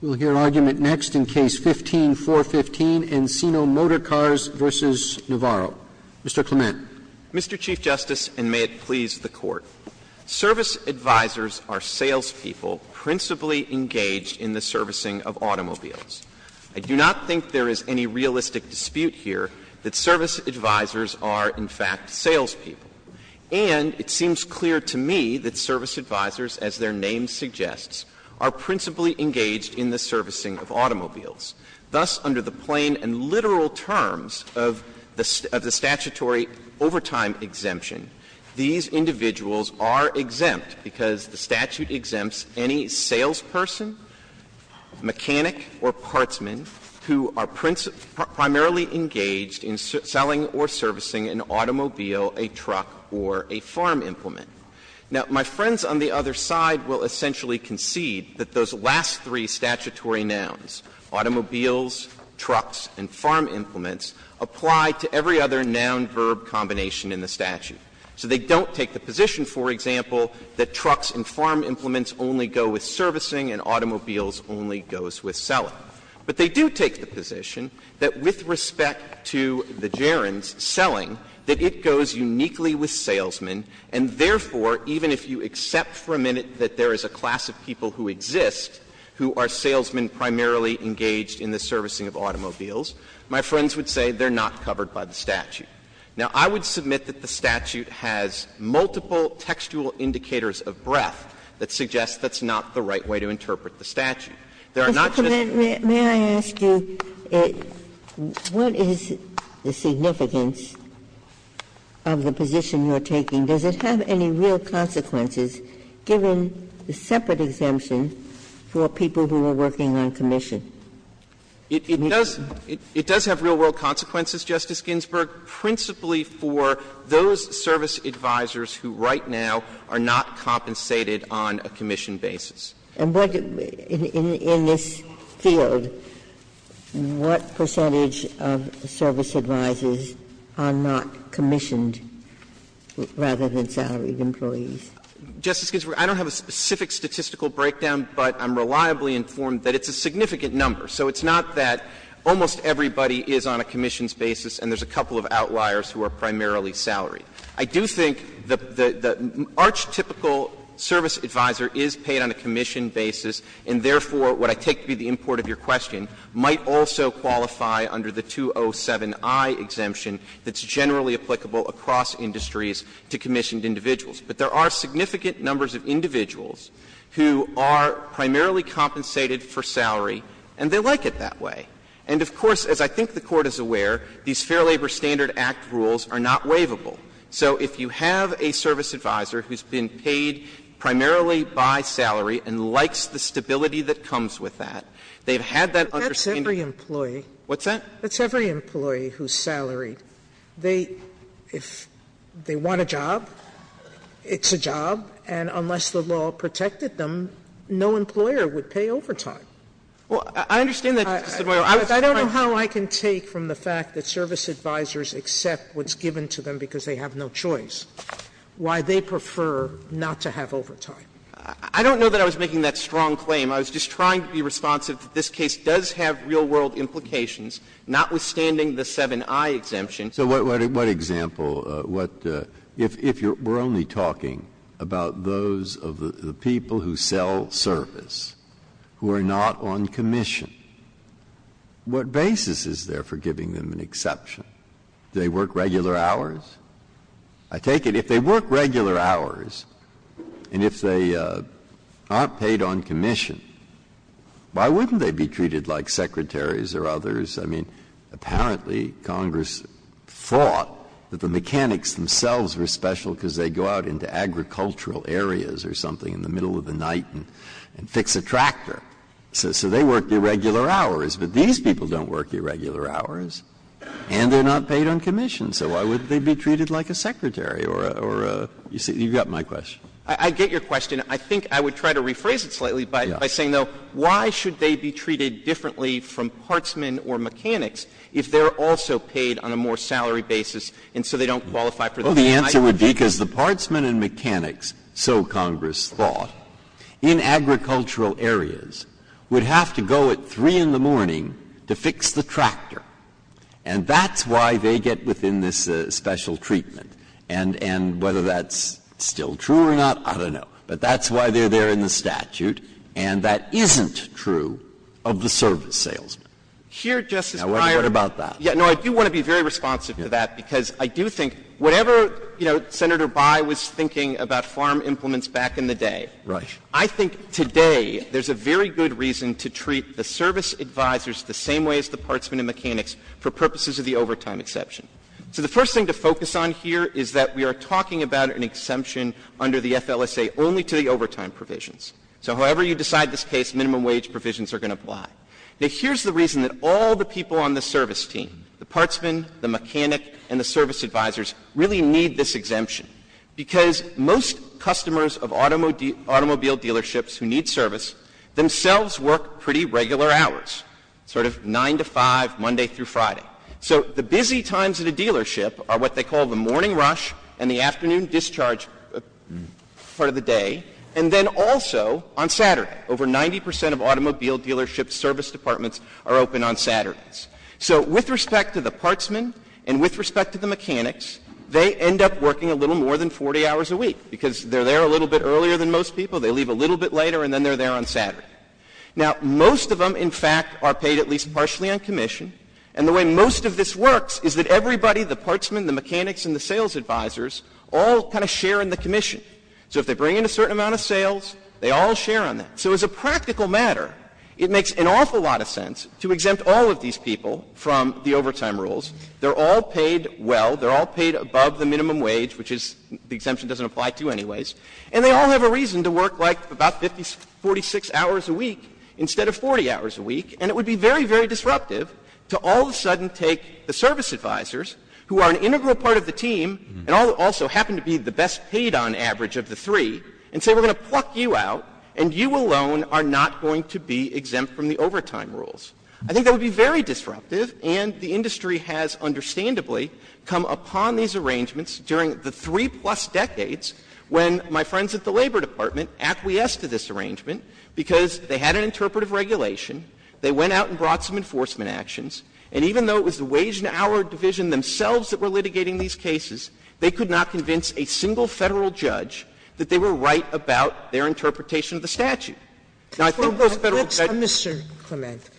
We'll hear argument next in Case No. 15-415, Encino Motorcars v. Navarro. Mr. Clement. Mr. Chief Justice, and may it please the Court, service advisors are salespeople principally engaged in the servicing of automobiles. I do not think there is any realistic dispute here that service advisors are, in fact, salespeople. And it seems clear to me that service advisors, as their name suggests, are principally engaged in the servicing of automobiles. Thus, under the plain and literal terms of the statutory overtime exemption, these individuals are exempt because the statute exempts any salesperson, mechanic, or partsman who are primarily engaged in selling or servicing an automobile, a truck, or a farm implement. Now, my friends on the other side will essentially concede that those last three statutory nouns, automobiles, trucks, and farm implements, apply to every other noun-verb combination in the statute. So they don't take the position, for example, that trucks and farm implements only go with servicing and automobiles only goes with selling. But they do take the position that with respect to the gerunds, selling, that it goes uniquely with salesmen, and therefore, even if you accept for a minute that there is a class of people who exist who are salesmen primarily engaged in the servicing of automobiles, my friends would say they're not covered by the statute. Now, I would submit that the statute has multiple textual indicators of breadth that suggest that's not the right way to interpret the statute. There are not just the two. Ginsburg. May I ask you, what is the significance of the position you're taking? Does it have any real consequences, given the separate exemption for people who are working on commission? It does have real-world consequences, Justice Ginsburg, principally for those service advisors who right now are not compensated on a commission basis. And what, in this field, what percentage of service advisors are not commissioned rather than salaried employees? Justice Ginsburg, I don't have a specific statistical breakdown, but I'm reliably informed that it's a significant number. So it's not that almost everybody is on a commissions basis and there's a couple of outliers who are primarily salaried. I do think the arch-typical service advisor is paid on a commission basis, and therefore, what I take to be the import of your question, might also qualify under the 207i exemption that's generally applicable across industries to commissioned individuals. But there are significant numbers of individuals who are primarily compensated for salary, and they like it that way. And of course, as I think the Court is aware, these Fair Labor Standard Act rules are not waivable. So if you have a service advisor who's been paid primarily by salary and likes the stability that comes with that, they've had that understanding. Sotomayor, what's that? Sotomayor, if they want a job, it's a job, and unless the law protected them, no employer would pay overtime. Well, I understand that, Justice Sotomayor. I don't know how I can take from the fact that service advisors accept what's given to them because they have no choice, why they prefer not to have overtime. I don't know that I was making that strong claim. I was just trying to be responsive that this case does have real world implications, notwithstanding the 7i exemption. So what example, what — if we're only talking about those of the people who sell service, who are not on commission, what basis is there for giving them an exception? Do they work regular hours? I take it if they work regular hours and if they aren't paid on commission, why wouldn't they be treated like secretaries or others? I mean, apparently Congress thought that the mechanics themselves were special because they go out into agricultural areas or something in the middle of the night and fix a tractor. So they work irregular hours. But these people don't work irregular hours. And they're not paid on commission. So why wouldn't they be treated like a secretary or a — you've got my question. I get your question. I think I would try to rephrase it slightly by saying, though, why should they be treated differently from partsmen or mechanics if they're also paid on a more salary basis and so they don't qualify for the — Well, the answer would be because the partsmen and mechanics, so Congress thought, in agricultural areas would have to go at 3 in the morning to fix the tractor. And that's why they get within this special treatment. And whether that's still true or not, I don't know. But that's why they're there in the statute. And that isn't true of the service salesman. Here, Justice Breyer — Now, what about that? No, I do want to be very responsive to that, because I do think whatever, you know, Senator Bayh was thinking about farm implements back in the day — Right. I think today there's a very good reason to treat the service advisors the same way as the partsmen and mechanics for purposes of the overtime exception. So the first thing to focus on here is that we are talking about an exemption under the FLSA only to the overtime provisions. So however you decide this case, minimum wage provisions are going to apply. Now, here's the reason that all the people on the service team, the partsmen, the mechanic, and the service advisors really need this exemption, because most customers of automobile dealerships who need service themselves work pretty regular hours, sort of 9 to 5, Monday through Friday. So the busy times at a dealership are what they call the morning rush and the afternoon discharge part of the day, and then also on Saturday. Over 90 percent of automobile dealership service departments are open on Saturdays. So with respect to the partsmen and with respect to the mechanics, they end up working a little more than 40 hours a week, because they're there a little bit earlier than most people, they leave a little bit later, and then they're there on Saturday. Now, most of them, in fact, are paid at least partially on commission. And the way most of this works is that everybody, the partsmen, the mechanics, and the sales advisors, all kind of share in the commission. So if they bring in a certain amount of sales, they all share on that. So as a practical matter, it makes an awful lot of sense to exempt all of these people from the overtime rules. They're all paid well. They're all paid above the minimum wage, which is the exemption doesn't apply to anyways. And they all have a reason to work like about 50, 46 hours a week instead of 40 hours a week, and it would be very, very disruptive to all of a sudden take the service advisors, who are an integral part of the team, and also happen to be the best paid on average of the three, and say we're going to pluck you out, and you alone are not going to be exempt from the overtime rules. I think that would be very disruptive, and the industry has understandably come upon these arrangements during the three-plus decades when my friends at the Labor Department acquiesced to this arrangement because they had an interpretive regulation, they went out and brought some enforcement actions, and even though it was the Wage and Hour Division themselves that were litigating these cases, they could not convince a single Federal judge that they were right about their interpretation of the statute. Now, I think those Federal judges — Sotomayor, Mr. Clement,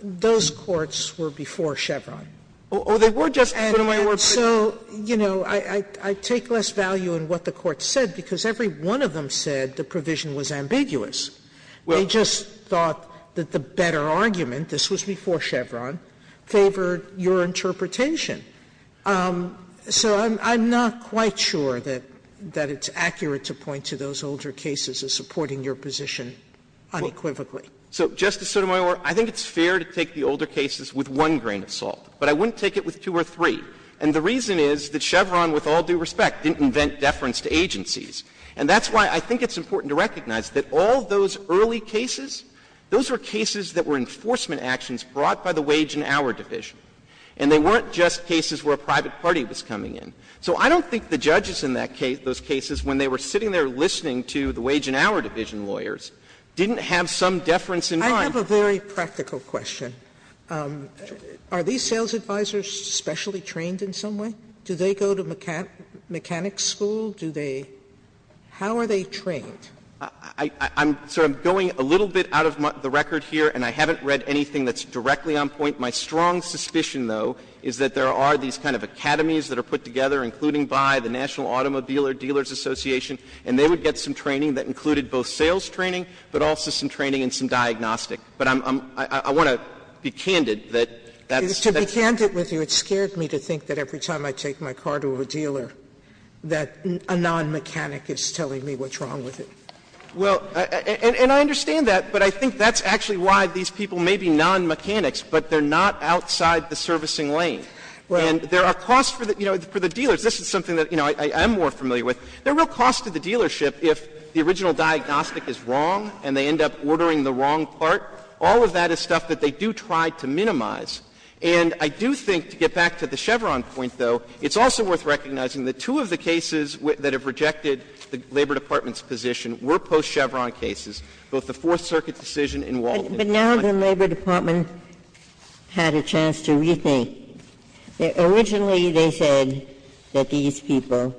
those courts were before Chevron. Oh, they were, Justice Sotomayor. And so, you know, I take less value in what the Court said, because every one of them said the provision was ambiguous. They just thought that the better argument, this was before Chevron, favored your interpretation. So I'm not quite sure that it's accurate to point to those older cases as supporting your position unequivocally. So, Justice Sotomayor, I think it's fair to take the older cases with one grain of And the reason is that Chevron, with all due respect, didn't invent deference to agencies. And that's why I think it's important to recognize that all those early cases, those were cases that were enforcement actions brought by the Wage and Hour Division. And they weren't just cases where a private party was coming in. So I don't think the judges in that case, those cases, when they were sitting there listening to the Wage and Hour Division lawyers, didn't have some deference in mind. Sotomayor, I have a very practical question. Are these sales advisors specially trained in some way? Do they go to mechanics school? Do they — how are they trained? I'm — so I'm going a little bit out of the record here, and I haven't read anything that's directly on point. My strong suspicion, though, is that there are these kind of academies that are put together, including by the National Automobile Dealers Association, and they would get some training that included both sales training, but also some training and some diagnostic. But I'm — I want to be candid that that's the case. Sotomayor, to be candid with you, it scared me to think that every time I take my car to a dealer that a non-mechanic is telling me what's wrong with it. Well, and I understand that, but I think that's actually why these people may be non-mechanics, but they're not outside the servicing lane. And there are costs for the — you know, for the dealers. This is something that, you know, I am more familiar with. There are real costs to the dealership if the original diagnostic is wrong and they end up ordering the wrong part. All of that is stuff that they do try to minimize. And I do think, to get back to the Chevron point, though, it's also worth recognizing that two of the cases that have rejected the Labor Department's position were post-Chevron cases, both the Fourth Circuit decision and Walden. But now the Labor Department had a chance to rethink. Originally, they said that these people,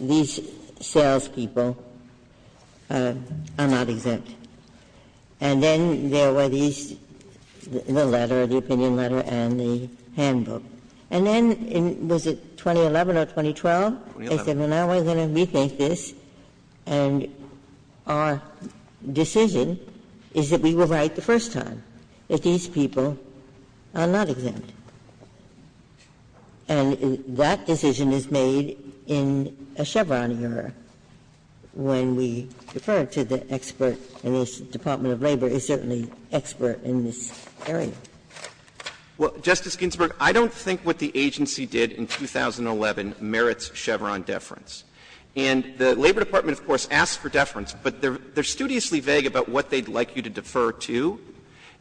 these salespeople, are not exempt. And then there were these, the letter, the opinion letter and the handbook. And then in, was it 2011 or 2012? They said, well, now we're going to rethink this, and our decision is that we will write the first time that these people are not exempt. And that decision is made in a Chevron era, when we defer to the expert, and this Department of Labor is certainly expert in this area. Well, Justice Ginsburg, I don't think what the agency did in 2011 merits Chevron deference. And the Labor Department, of course, asked for deference, but they're studiously vague about what they'd like you to defer to.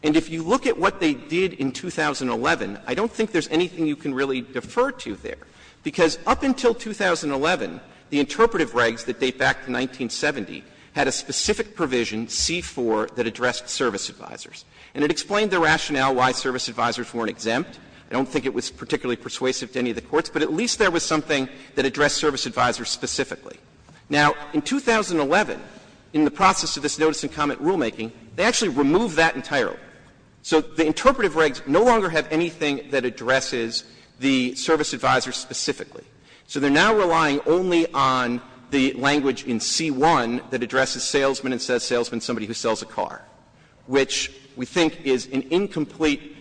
And if you look at what they did in 2011, I don't think there's anything you can really defer to there. Because up until 2011, the interpretive regs that date back to 1970 had a specific provision, C-4, that addressed service advisers. And it explained the rationale why service advisers weren't exempt. I don't think it was particularly persuasive to any of the courts, but at least there was something that addressed service advisers specifically. Now, in 2011, in the process of this notice and comment rulemaking, they actually removed that entirely. So the interpretive regs no longer have anything that addresses the service advisers specifically. So they're now relying only on the language in C-1 that addresses salesman and says salesman is somebody who sells a car, which we think is an incomplete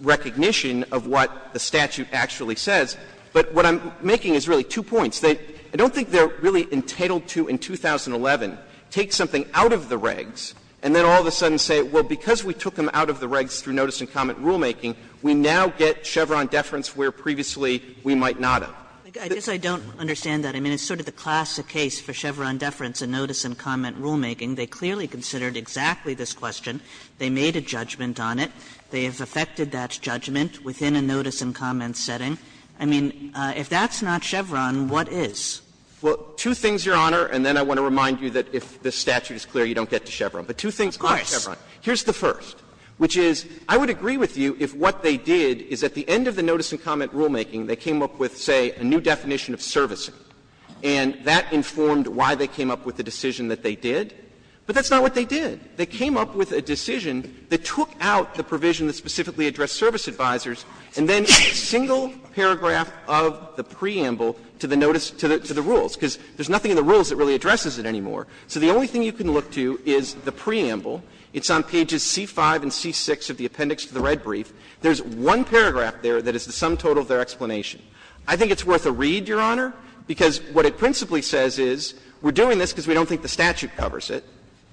recognition of what the statute actually says. But what I'm making is really two points. I don't think they're really entitled to, in 2011 take something out of the regs and then all of a sudden say, well, because we took them out of the regs through notice and comment rulemaking, we now get Chevron deference where previously we might not have. I guess I don't understand it. I mean, it's sort of the classic case for Chevron deference in notice and comment rulemaking. They clearly considered exactly this question. They made a judgment on it. They have effected that judgment within a notice and comment setting. I mean, if that's not Chevron, what is? Clements. Well, two things, Your Honor, and then I want to remind you that if the statute is clear, you don't get to Chevron. But two things on Chevron. Here's the first, which is, I would agree with you if what they did is at the end of the notice and comment rulemaking, they came up with, say, a new definition of servicing, and that informed why they came up with the decision that they did. But that's not what they did. They came up with a decision that took out the provision that specifically addressed service advisors, and then a single paragraph of the preamble to the notice to the rules, because there's nothing in the rules that really addresses it anymore. So the only thing you can look to is the preamble. It's on pages C-5 and C-6 of the appendix to the red brief. There's one paragraph there that is the sum total of their explanation. I think it's worth a read, Your Honor, because what it principally says is, we're doing this because we don't think the statute covers it,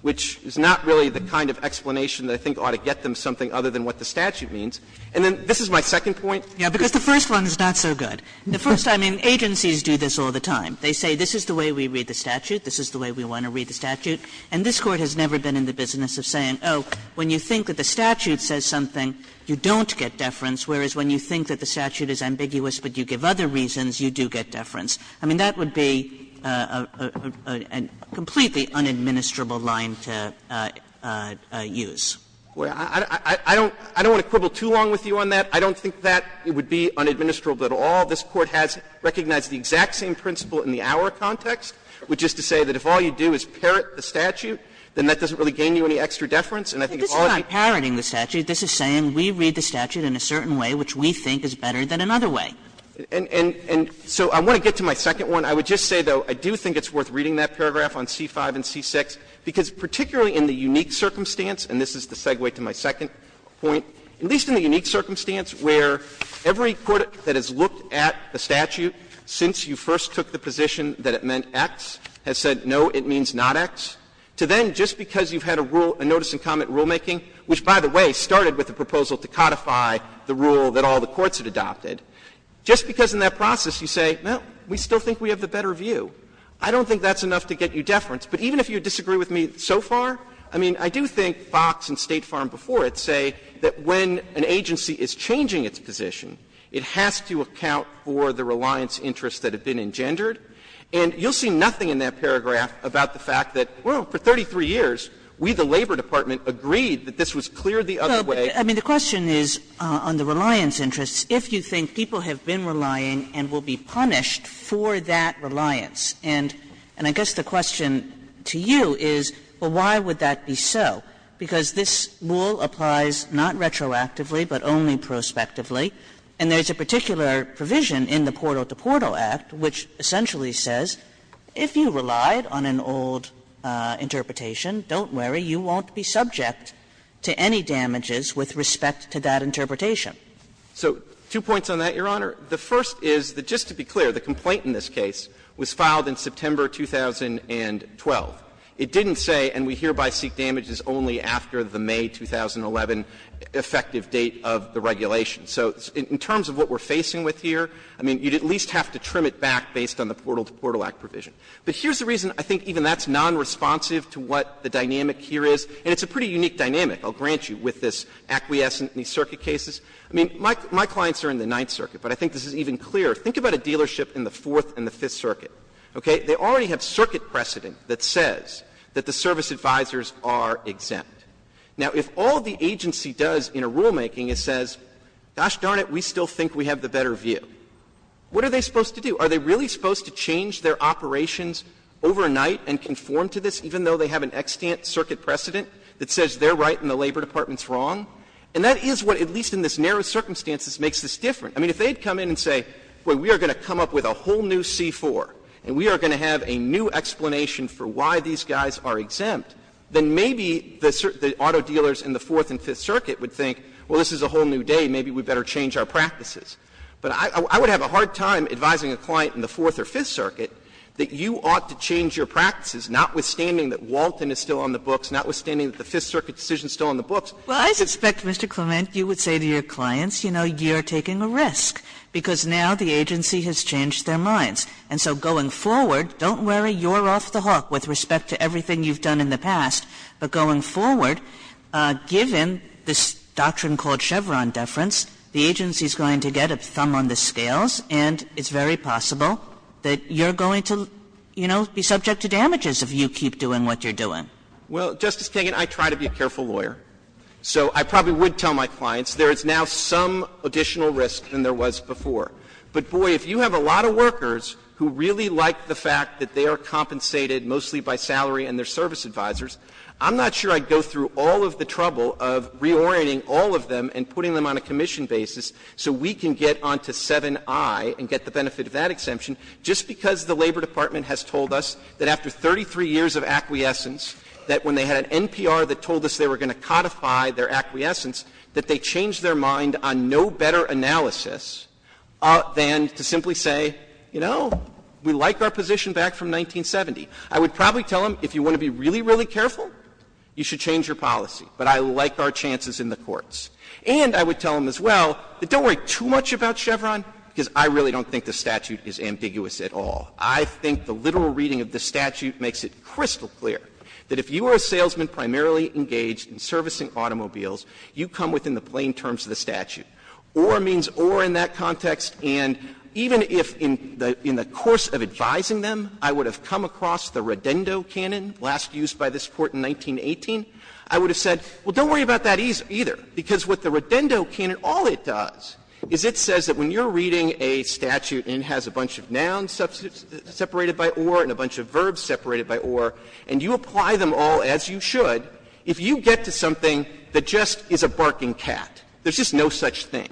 which is not really the kind of explanation that I think ought to get them something other than what the statute means. And then, this is my second point. Kagan Yeah, because the first one is not so good. The first, I mean, agencies do this all the time. They say this is the way we read the statute, this is the way we want to read the statute, and this Court has never been in the business of saying, oh, when you think that the statute says something, you don't get deference, whereas when you think that the statute is ambiguous, but you give other reasons, you do get deference. I mean, that would be a completely unadministrable line to use. Clement I don't want to quibble too long with you on that. I don't think that it would be unadministrable at all. This Court has recognized the exact same principle in the Auer context, which is to say that if all you do is parrot the statute, then that doesn't really gain you any extra deference. And I think if all you do is parrot the statute, this is saying we read the statute in a certain way which we think is better than another way. And so I want to get to my second one. I would just say, though, I do think it's worth reading that paragraph on C-5 and C-6, because particularly in the unique circumstance, and this is the segue to my second point, at least in the unique circumstance where every court that has looked at the statute since you first took the position that it meant X has said, no, it means not X, to then just because you've had a rule, a notice and comment rulemaking, which, by the way, started with the proposal to codify the rule that all the courts had adopted, just because in that process you say, well, we still think we have the better view. I don't think that's enough to get you deference. But even if you disagree with me so far, I mean, I do think Fox and State Farm before it say that when an agency is changing its position, it has to account for the reliance interests that have been engendered. And you'll see nothing in that paragraph about the fact that, well, for 33 years, we, the Labor Department, agreed that this was clear the other way. I mean, the question is on the reliance interests, if you think people have been relying and will be punished for that reliance, and I guess the question to you is, well, why would that be so? Because this rule applies not retroactively but only prospectively, and there is a particular provision in the Portal to Portal Act which essentially says, if you relied on an old interpretation, don't worry, you won't be subject to any damages with respect to that interpretation. So two points on that, Your Honor. The first is that, just to be clear, the complaint in this case was filed in September 2012. It didn't say, and we hereby seek damages only after the May 2011 effective date of the regulation. So in terms of what we're facing with here, I mean, you'd at least have to trim it back based on the Portal to Portal Act provision. But here's the reason I think even that's nonresponsive to what the dynamic here is, and it's a pretty unique dynamic, I'll grant you, with this acquiescent in these circuit cases. I mean, my clients are in the Ninth Circuit, but I think this is even clearer. Think about a dealership in the Fourth and the Fifth Circuit, okay? They already have circuit precedent that says that the service advisors are exempt. Now, if all the agency does in a rulemaking is says, gosh darn it, we still think we have the better view, what are they supposed to do? Are they really supposed to change their operations overnight and conform to this, even though they have an extant circuit precedent that says they're right and the Labor Department's wrong? And that is what, at least in this narrow circumstance, makes this different. I mean, if they'd come in and say, boy, we are going to come up with a whole new C-4 and we are going to have a new explanation for why these guys are exempt, then maybe the auto dealers in the Fourth and Fifth Circuit would think, well, this is a whole new day, maybe we'd better change our practices. But I would have a hard time advising a client in the Fourth or Fifth Circuit that you ought to change your practices, notwithstanding that Walton is still on the books, notwithstanding that the Fifth Circuit decision is still on the books. Kagan. Well, I suspect, Mr. Clement, you would say to your clients, you know, you're taking a risk, because now the agency has changed their minds. And so going forward, don't worry, you're off the hook with respect to everything you've done in the past, but going forward, given this doctrine called Chevron deference, the agency is going to get a thumb on the scales, and it's very possible that you're going to, you know, be subject to damages if you keep doing what you're doing. Clement. Well, Justice Kagan, I try to be a careful lawyer, so I probably would tell my clients there is now some additional risk than there was before. But, boy, if you have a lot of workers who really like the fact that they are compensated mostly by salary and their service advisors, I'm not sure I'd go through all of the and putting them on a commission basis so we can get on to 7i and get the benefit of that exemption, just because the Labor Department has told us that after 33 years of acquiescence, that when they had an NPR that told us they were going to codify their acquiescence, that they changed their mind on no better analysis than to simply say, you know, we like our position back from 1970. I would probably tell them, if you want to be really, really careful, you should change your policy, but I like our chances in the courts. And I would tell them as well, don't worry too much about Chevron, because I really don't think the statute is ambiguous at all. I think the literal reading of the statute makes it crystal clear that if you are a salesman primarily engaged in servicing automobiles, you come within the plain terms of the statute. Or means or in that context, and even if in the course of advising them, I would have come across the Redendo canon, last used by this Court in 1918, I would have said, well, don't worry about that either, because what the Redendo canon, all it does is it says that when you are reading a statute and it has a bunch of nouns separated by or and a bunch of verbs separated by or, and you apply them all as you should, if you get to something that just is a barking cat, there is just no such thing,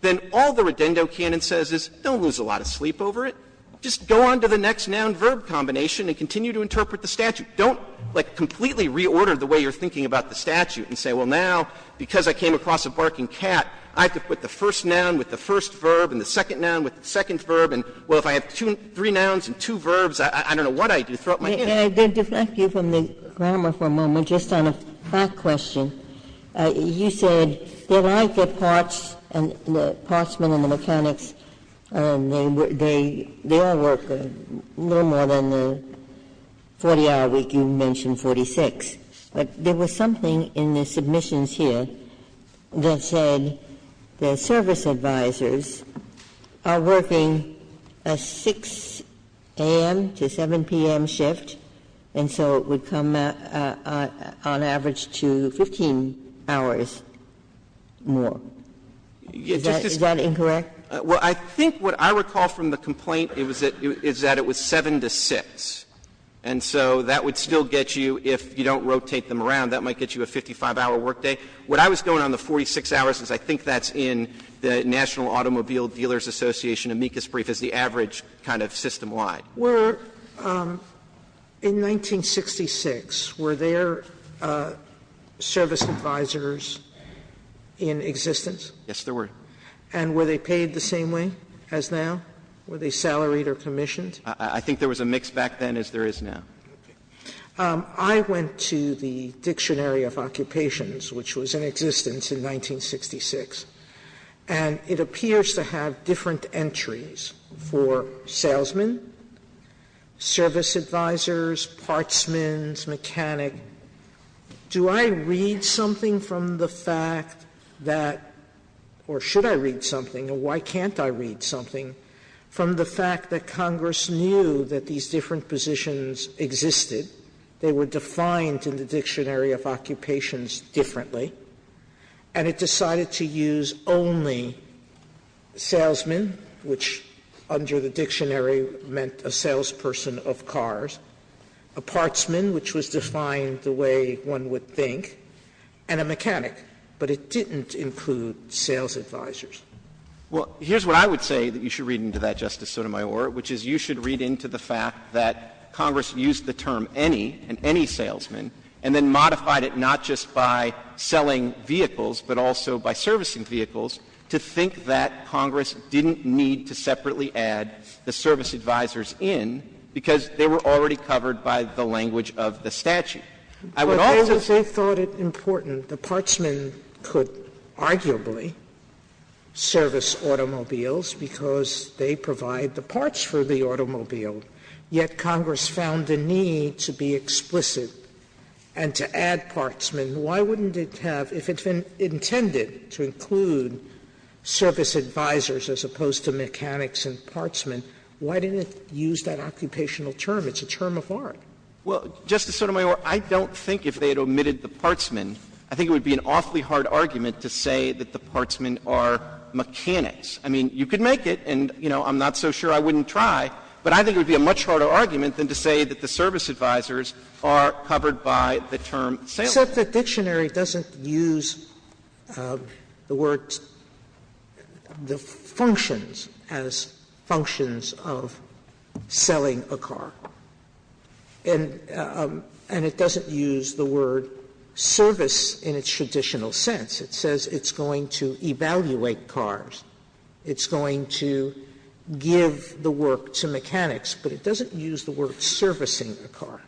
then all the Redendo canon says is don't lose a lot of sleep over it, just go on to the next noun-verb combination and continue to interpret the statute. Don't, like, completely reorder the way you are thinking about the statute and say, well, now, because I came across a barking cat, I have to put the first noun with the first verb and the second noun with the second verb, and, well, if I have two three nouns and two verbs, I don't know what I do. Throw up my pen. Ginsburg. And I did deflect you from the grammar for a moment just on a fact question. You said they are like the parts and the partsmen and the mechanics, and they all work a little more than the 40-hour week you mentioned, 46. But there was something in the submissions here that said the service advisors are working a 6 a.m. to 7 p.m. shift, and so it would come on average to 15 hours more. Is that incorrect? Well, I think what I recall from the complaint is that it was 7 to 6, and so that would still get you, if you don't rotate them around, that might get you a 55-hour workday. What I was going on, the 46 hours, is I think that's in the National Automobile Dealers Association amicus brief as the average kind of system-wide. Sotomayor. In 1966, were there service advisors in existence? Yes, there were. And were they paid the same way as now? Were they salaried or commissioned? I think there was a mix back then as there is now. I went to the Dictionary of Occupations, which was in existence in 1966, and it appears to have different entries for salesmen, service advisors, partsmen, mechanic. And I said, okay, do I read something from the fact that — or should I read something or why can't I read something — from the fact that Congress knew that these different positions existed, they were defined in the Dictionary of Occupations differently, and it decided to use only salesmen, which under the dictionary meant a salesperson of cars, a partsman, which was defined the way one would think, and a mechanic. But it didn't include sales advisors. Well, here's what I would say that you should read into that, Justice Sotomayor, which is you should read into the fact that Congress used the term any, and any salesman, and then modified it not just by selling vehicles, but also by servicing vehicles, to think that Congress didn't need to separately add the service advisors in because they were already covered by the language of the statute. I would also say— Sotomayor, they thought it important. The partsmen could arguably service automobiles because they provide the parts for the automobile, yet Congress found the need to be explicit and to add partsmen. Why wouldn't it have, if it's intended to include service advisors as opposed to mechanics and partsmen, why didn't it use that occupational term? It's a term of art. Well, Justice Sotomayor, I don't think if they had omitted the partsmen, I think it would be an awfully hard argument to say that the partsmen are mechanics. I mean, you could make it, and, you know, I'm not so sure I wouldn't try, but I think it would be a much harder argument than to say that the service advisors are covered by the term salesman. Sotomayor, the dictionary doesn't use the word the functions as functions of selling a car, and it doesn't use the word service in its traditional sense. It says it's going to evaluate cars. It's going to give the work to mechanics, but it doesn't use the word servicing a car.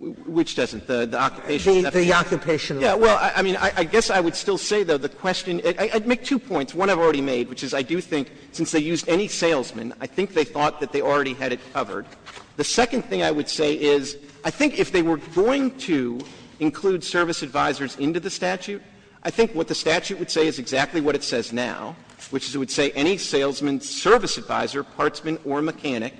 Which doesn't? The occupation? The occupational. Yeah. Well, I mean, I guess I would still say, though, the question — I'd make two points. One I've already made, which is I do think since they used any salesman, I think they thought that they already had it covered. The second thing I would say is I think if they were going to include service advisors into the statute, I think what the statute would say is exactly what it says now, which is it would say any salesman, service advisor, partsman or mechanic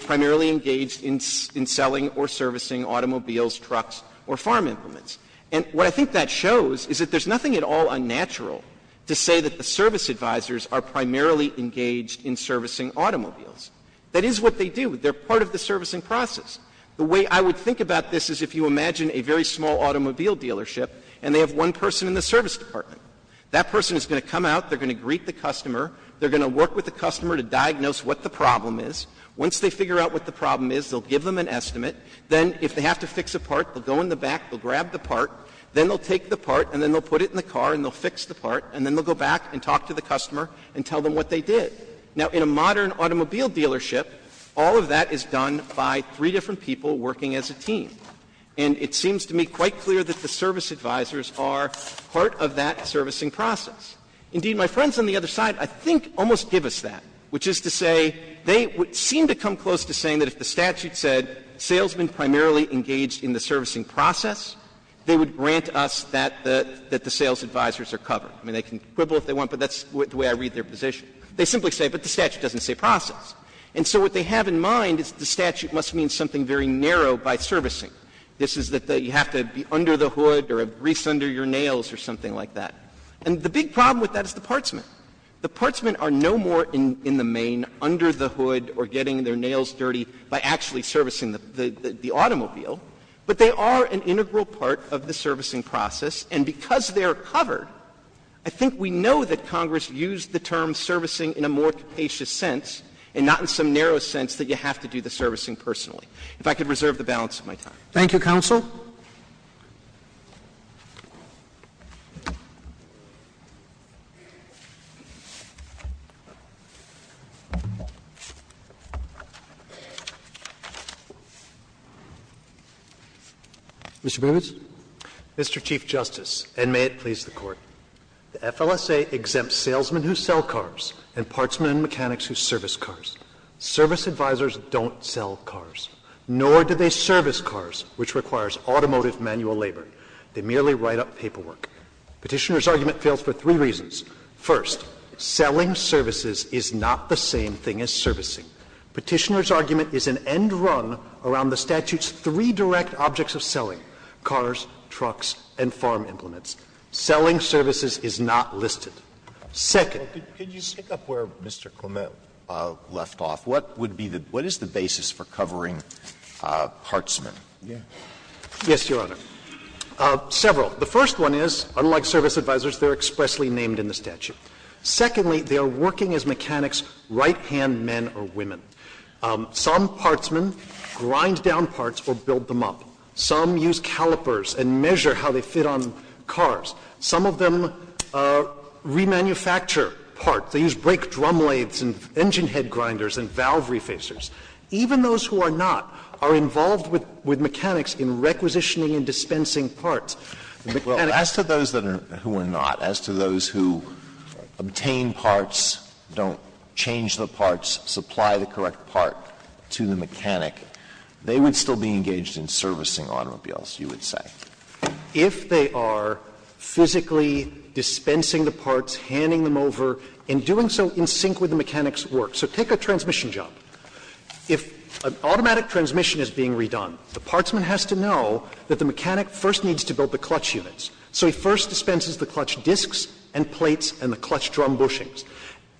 primarily engaged in selling or servicing automobiles, trucks or farm implements. And what I think that shows is that there's nothing at all unnatural to say that the service advisors are primarily engaged in servicing automobiles. That is what they do. They're part of the servicing process. The way I would think about this is if you imagine a very small automobile dealership and they have one person in the service department. That person is going to come out, they're going to greet the customer, they're going to work with the customer to diagnose what the problem is. Once they figure out what the problem is, they'll give them an estimate. Then if they have to fix a part, they'll go in the back, they'll grab the part, then they'll take the part and then they'll put it in the car and they'll fix the part and then they'll go back and talk to the customer and tell them what they did. Now, in a modern automobile dealership, all of that is done by three different people working as a team. And it seems to me quite clear that the service advisors are part of that servicing process. Indeed, my friends on the other side I think almost give us that, which is to say they seem to come close to saying that if the statute said salesmen primarily engaged in the servicing process, they would grant us that the sales advisors are covered. I mean, they can quibble if they want, but that's the way I read their position. They simply say, but the statute doesn't say process. And so what they have in mind is the statute must mean something very narrow by servicing. This is that you have to be under the hood or grease under your nails or something like that. And the big problem with that is the partsmen. The partsmen are no more in the main, under the hood or getting their nails dirty by actually servicing the automobile, but they are an integral part of the servicing process. And because they are covered, I think we know that Congress used the term servicing in a more capacious sense and not in some narrow sense that you have to do the servicing personally. If I could reserve the balance of my time. Roberts. Thank you, counsel. Mr. Bivins. Mr. Chief Justice, and may it please the Court. The FLSA exempts salesmen who sell cars and partsmen and mechanics who service cars. Service advisors don't sell cars, nor do they service cars, which requires automotive manual labor. They merely write up paperwork. Petitioner's argument fails for three reasons. First, selling services is not the same thing as servicing. Petitioner's argument is an end run around the statute's three direct objects of selling, cars, trucks, and farm implements. Selling services is not listed. Second. Alito, could you speak up where Mr. Clement left off? What would be the – what is the basis for covering partsmen? Yes, Your Honor. Several. The first one is, unlike service advisors, they are expressly named in the statute. Secondly, they are working as mechanics, right-hand men or women. Some partsmen grind down parts or build them up. Some use calipers and measure how they fit on cars. Some of them remanufacture parts. They use brake drum lathes and engine head grinders and valve refacers. Even those who are not are involved with mechanics in requisitioning and dispensing parts. As to those who are not, as to those who obtain parts, don't change the parts, supply the correct part to the mechanic, they would still be engaged in servicing automobiles, you would say. If they are physically dispensing the parts, handing them over, and doing so in sync with the mechanic's work. So take a transmission job. If an automatic transmission is being redone, the partsman has to know that the mechanic first needs to build the clutch units. So he first dispenses the clutch discs and plates and the clutch drum bushings.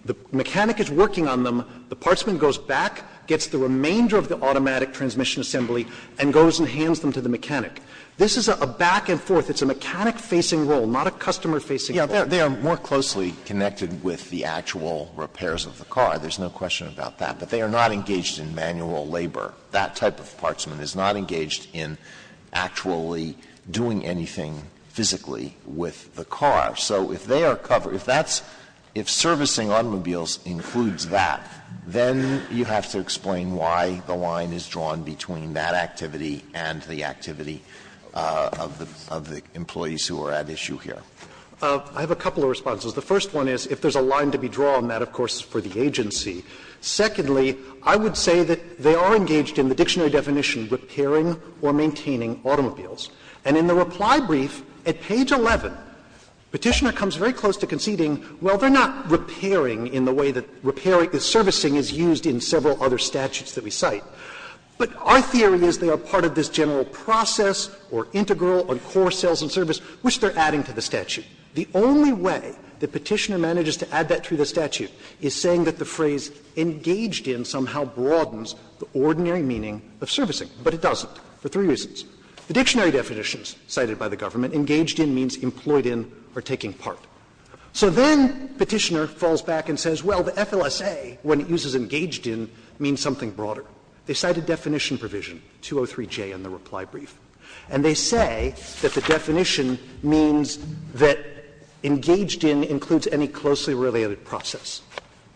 The mechanic is working on them. The partsman goes back, gets the remainder of the automatic transmission assembly, and goes and hands them to the mechanic. This is a back and forth. It's a mechanic-facing role, not a customer-facing role. Alito, they are more closely connected with the actual repairs of the car. There's no question about that. But they are not engaged in manual labor. That type of partsman is not engaged in actually doing anything physically with the car. So if they are covered, if that's — if servicing automobiles includes that, then you have to explain why the line is drawn between that activity and the activity of the employees who are at issue here. I have a couple of responses. The first one is, if there's a line to be drawn, that, of course, is for the agency. Secondly, I would say that they are engaged in the dictionary definition, repairing or maintaining automobiles. And in the reply brief at page 11, Petitioner comes very close to conceding, well, they are not repairing in the way that repairing — servicing is used in several other statutes that we cite. But our theory is they are part of this general process or integral on core sales and service, which they are adding to the statute. The only way that Petitioner manages to add that to the statute is saying that the phrase engaged in somehow broadens the ordinary meaning of servicing. But it doesn't, for three reasons. The dictionary definitions cited by the government, engaged in means employed in or taking part. So then Petitioner falls back and says, well, the FLSA, when it uses engaged in, means something broader. They cite a definition provision, 203J, in the reply brief, and they say that the definition means that engaged in includes any closely related process.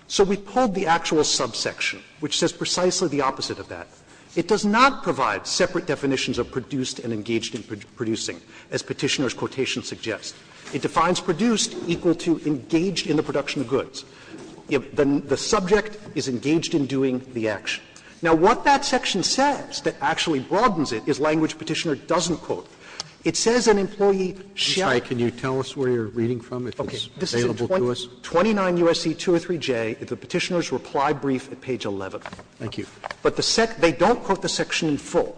So we pulled the actual subsection, which says precisely the opposite of that. It does not provide separate definitions of produced and engaged in producing, as Petitioner's quotation suggests. It defines produced equal to engaged in the production of goods. The subject is engaged in doing the action. Now, what that section says that actually broadens it is language Petitioner doesn't quote. It says an employee shall. Roberts, can you tell us where you are reading from, if it's available to us? Okay. This is in 29 U.S.C. 203J, the Petitioner's reply brief at page 11. Thank you. But the section, they don't quote the section in full.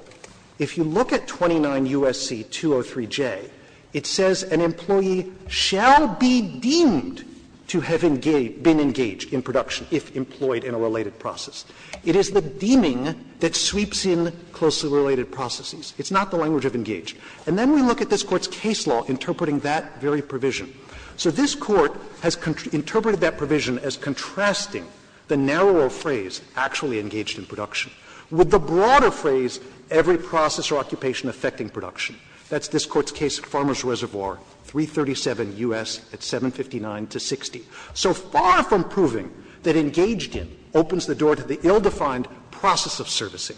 If you look at 29 U.S.C. 203J, it says an employee shall be deemed to have engaged been engaged in production if employed in a related process. It is the deeming that sweeps in closely related processes. It's not the language of engaged. And then we look at this Court's case law interpreting that very provision. So this Court has interpreted that provision as contrasting the narrower phrase actually engaged in production with the broader phrase every process or occupation affecting production. That's this Court's case, Farmer's Reservoir, 337 U.S. at 759 to 60. So far from proving that engaged in opens the door to the ill-defined process of servicing.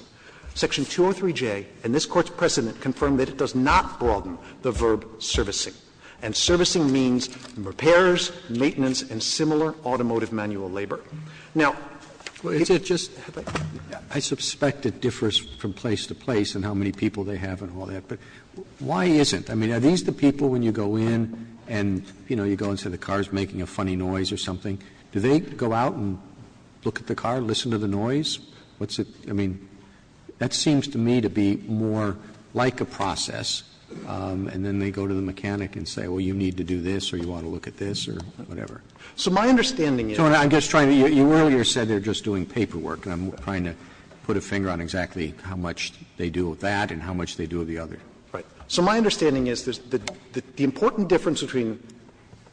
Section 203J and this Court's precedent confirm that it does not broaden the verb servicing. And servicing means repairs, maintenance, and similar automotive manual labor. Now, is it just that I suspect it differs from place to place in how many people they have and all that, but why isn't? I mean, are these the people when you go in and, you know, you go and say the car is making a funny noise or something, do they go out and look at the car, listen to the noise? What's it — I mean, that seems to me to be more like a process, and then they go to the mechanic and say, well, you need to do this or you want to look at this or whatever. So my understanding is that the important difference between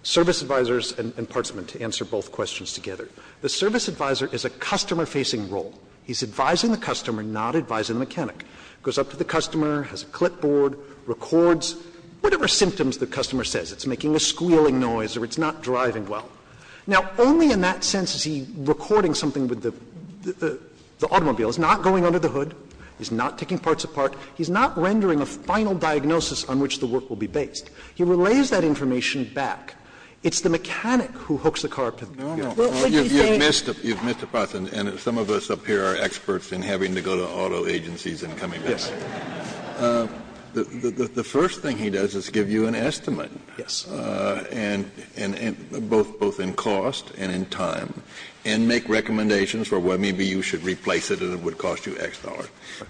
service advisors and partsmen, to answer both questions together, the service advisor is a customer-facing role. He's advising the customer, not advising the mechanic. Goes up to the customer, has a clipboard, records whatever symptoms the customer says. It's making a squealing noise or it's not driving well. well. Now, only in that sense is he recording something with the automobile. It's not going under the hood. He's not taking parts apart. He's not rendering a final diagnosis on which the work will be based. He relays that information back. It's the mechanic who hooks the car up to the computer. Kennedy, you're saying? Kennedy, you've missed a part, and some of us up here are experts in having to go to auto agencies and coming back. Verrilli, The first thing he does is give you an estimate. Verrilli, Yes. Verrilli, both in cost and in time, and make recommendations for, well, maybe you should replace it and it would cost you X dollars.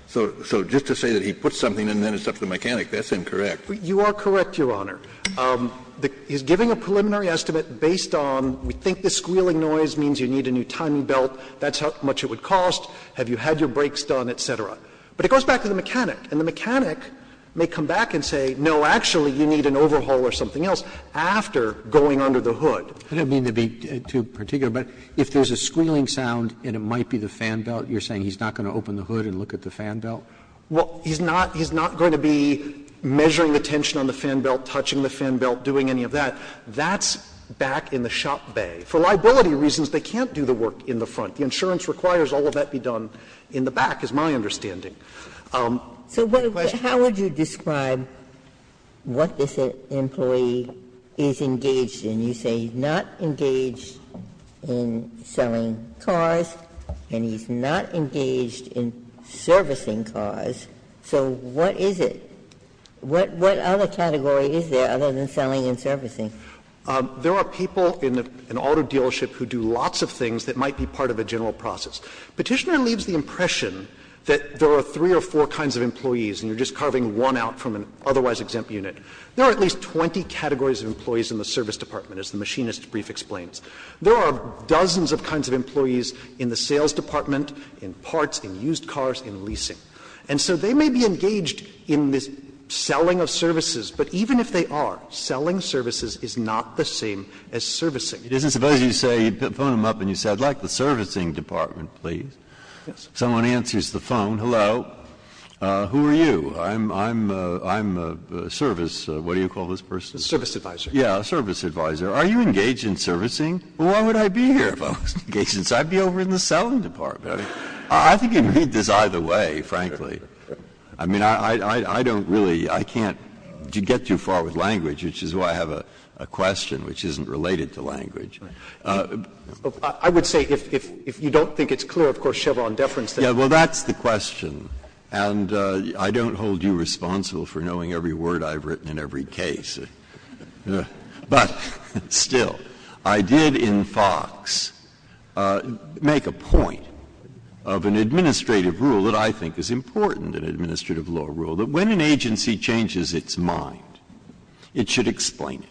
So just to say that he puts something and then it's up to the mechanic, that's incorrect. You are correct, Your Honor. He's giving a preliminary estimate based on, we think the squealing noise means you need a new timing belt, that's how much it would cost, have you had your brakes done, et cetera. But it goes back to the mechanic, and the mechanic may come back and say, no, actually you need an overhaul or something else. After going under the hood. Roberts, I don't mean to be too particular, but if there's a squealing sound and it might be the fan belt, you're saying he's not going to open the hood and look at the fan belt? Verrilli, Well, he's not going to be measuring the tension on the fan belt, touching the fan belt, doing any of that. That's back in the shop bay. For liability reasons, they can't do the work in the front. The insurance requires all of that be done in the back, is my understanding. Ginsburg, So how would you describe what this employee is engaged in? You say he's not engaged in selling cars and he's not engaged in servicing cars. So what is it? What other category is there other than selling and servicing? Verrilli, There are people in an auto dealership who do lots of things that might be part of a general process. Petitioner leaves the impression that there are three or four kinds of employees and you're just carving one out from an otherwise exempt unit. There are at least 20 categories of employees in the service department, as the machinist's brief explains. There are dozens of kinds of employees in the sales department, in parts, in used cars, in leasing. And so they may be engaged in this selling of services, but even if they are, selling services is not the same as servicing. Breyer, It isn't. Suppose you say, you phone him up and you say, I'd like the servicing department, please. Someone answers the phone, hello, who are you? I'm a service, what do you call this person? Verrilli, A service advisor. Breyer, Yeah, a service advisor. Are you engaged in servicing? Well, why would I be here if I was engaged in servicing? I'd be over in the selling department. I think you can read this either way, frankly. I mean, I don't really, I can't get too far with language, which is why I have a question which isn't related to language. I would say, if you don't think it's clear, of course, Chevron deference. Breyer, Yeah, well, that's the question. And I don't hold you responsible for knowing every word I've written in every case. But still, I did, in Fox, make a point of an administrative rule that I think is important, an administrative law rule, that when an agency changes its mind, it should explain it.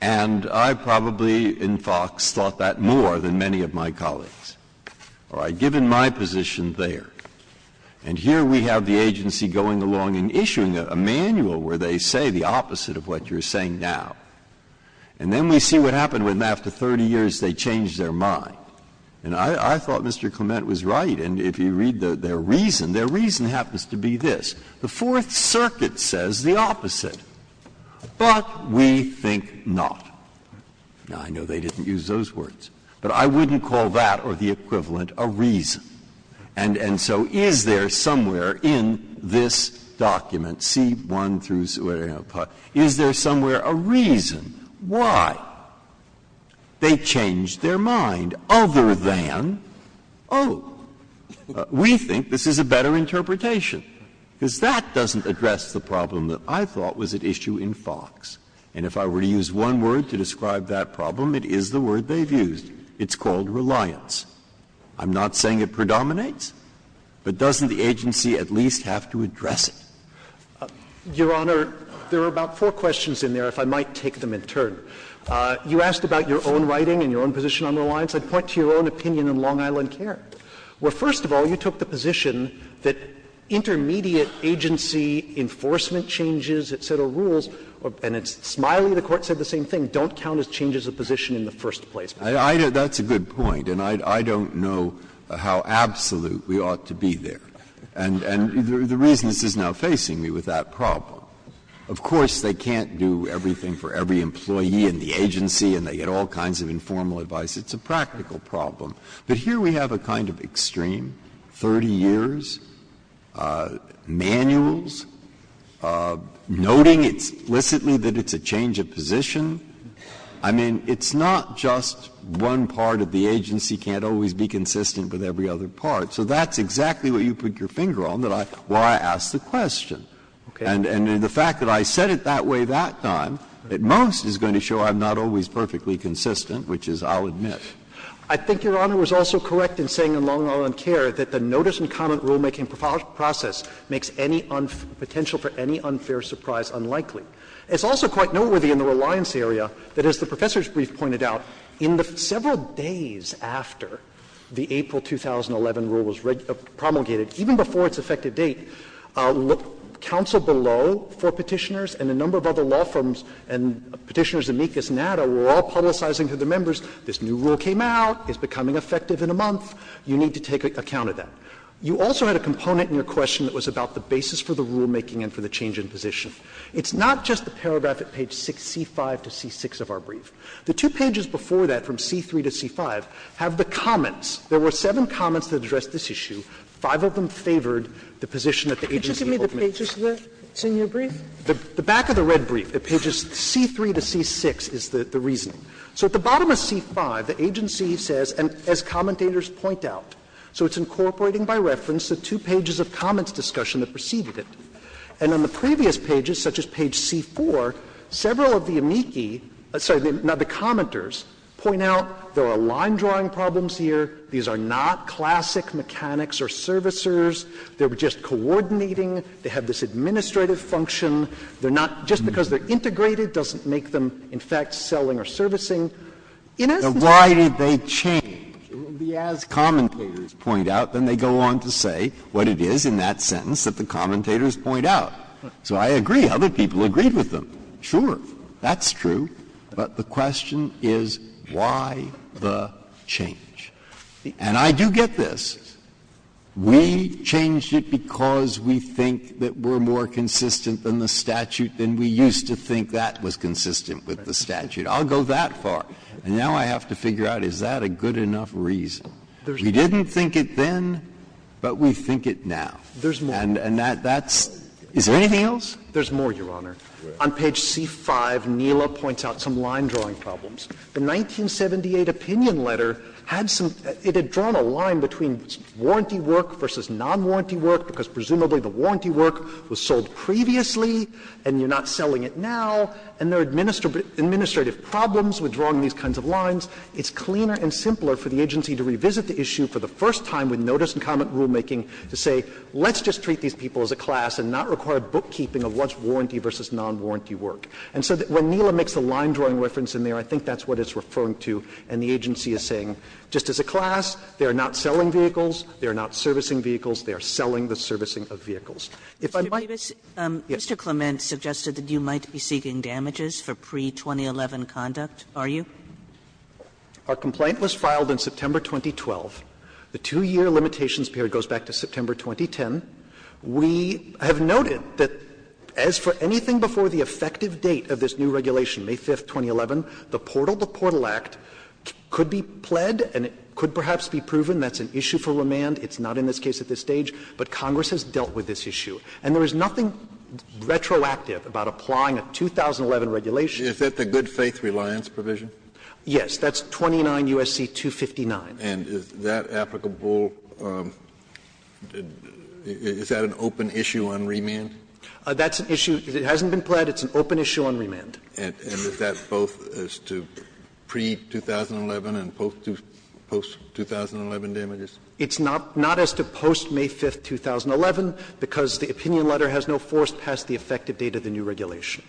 And I probably, in Fox, thought that more than many of my colleagues. All right. Given my position there, and here we have the agency going along and issuing a manual where they say the opposite of what you're saying now. And then we see what happened when, after 30 years, they changed their mind. And I thought Mr. Clement was right. And if you read their reason, their reason happens to be this. The Fourth Circuit says the opposite. But we think not. Now, I know they didn't use those words, but I wouldn't call that or the equivalent a reason. And so is there somewhere in this document, C-1 through C-1, is there somewhere a reason why they changed their mind other than, oh, we think this is a better interpretation? Because that doesn't address the problem that I thought was at issue in Fox. And if I were to use one word to describe that problem, it is the word they've used. It's called reliance. I'm not saying it predominates, but doesn't the agency at least have to address it? Your Honor, there are about four questions in there, if I might take them in turn. You asked about your own writing and your own position on reliance. I'd point to your own opinion in Long Island Care, where, first of all, you took the position that intermediate agency enforcement changes, et cetera, rules, and it's, smiley, the Court said the same thing, don't count as changes of position in the first place. Breyer, that's a good point, and I don't know how absolute we ought to be there and the reason this is now facing me with that problem. Of course, they can't do everything for every employee in the agency and they get all kinds of informal advice. It's a practical problem. But here we have a kind of extreme, 30 years, manuals, noting explicitly that it's a change of position. I mean, it's not just one part of the agency can't always be consistent with every other part. So that's exactly what you put your finger on that I asked the question. And the fact that I said it that way that time, at most, is going to show I'm not always perfectly consistent, which is, I'll admit. I think Your Honor was also correct in saying in Long Island Care that the notice and comment rulemaking process makes any potential for any unfair surprise unlikely. It's also quite noteworthy in the reliance area that, as the Professor's brief pointed out, in the several days after the April 2011 rule was promulgated, even before its effective date, counsel below for Petitioners and a number of other law firms and Petitioners amicus nata were all publicizing to the members this new rulemaking process. And that's not just the paragraph at page 6, C5 to C6 of our brief, but the two pages before that, from C3 to C5, have the comments. There were seven comments that addressed this issue, five of them favored the position that the agency held in the brief. Sotomayor, did you give me the pages of the senior brief? The back of the red brief, at pages C3 to C6, is the reasoning. The agency says, and as commentators point out, so it's incorporating by reference the two pages of comments discussion that preceded it. And on the previous pages, such as page C4, several of the amici, sorry, not the commenters, point out there are line-drawing problems here, these are not classic mechanics or servicers, they're just coordinating, they have this administrative function. They're not just because they're integrated doesn't make them, in fact, selling or servicing. Why did they change? It will be as commentators point out, then they go on to say what it is in that sentence that the commentators point out. So I agree, other people agreed with them. Sure, that's true, but the question is why the change? And I do get this. We changed it because we think that we're more consistent than the statute, than we used to think that was consistent with the statute. I'll go that far, and now I have to figure out, is that a good enough reason? We didn't think it then, but we think it now. And that's, is there anything else? There's more, Your Honor. On page C5, Neela points out some line-drawing problems. The 1978 opinion letter had some, it had drawn a line between warranty work versus non-warranty work, because presumably the warranty work was sold previously and you're not selling it now, and there are administrative problems with drawing these kinds of lines. It's cleaner and simpler for the agency to revisit the issue for the first time with notice and comment rulemaking to say, let's just treat these people as a class and not require bookkeeping of what's warranty versus non-warranty work. And so when Neela makes the line-drawing reference in there, I think that's what it's referring to, and the agency is saying, just as a class, they are not selling vehicles, they are not servicing vehicles, they are selling the servicing of vehicles. If I might. Kagan. Our complaint was filed in September 2012. The 2-year limitations period goes back to September 2010. We have noted that as for anything before the effective date of this new regulation, May 5th, 2011, the Portal to Portal Act could be pled and it could perhaps be proven that's an issue for remand. It's not in this case at this stage, but Congress has dealt with this issue. And there is nothing retroactive about applying a 2011 regulation. Kennedy, is that the good faith reliance provision? Yes, that's 29 U.S.C. 259. And is that applicable, is that an open issue on remand? That's an issue, if it hasn't been pled, it's an open issue on remand. And is that both as to pre-2011 and post-2011 damages? It's not as to post-May 5th, 2011, because the opinion letter has no force past the effective date of the new regulation.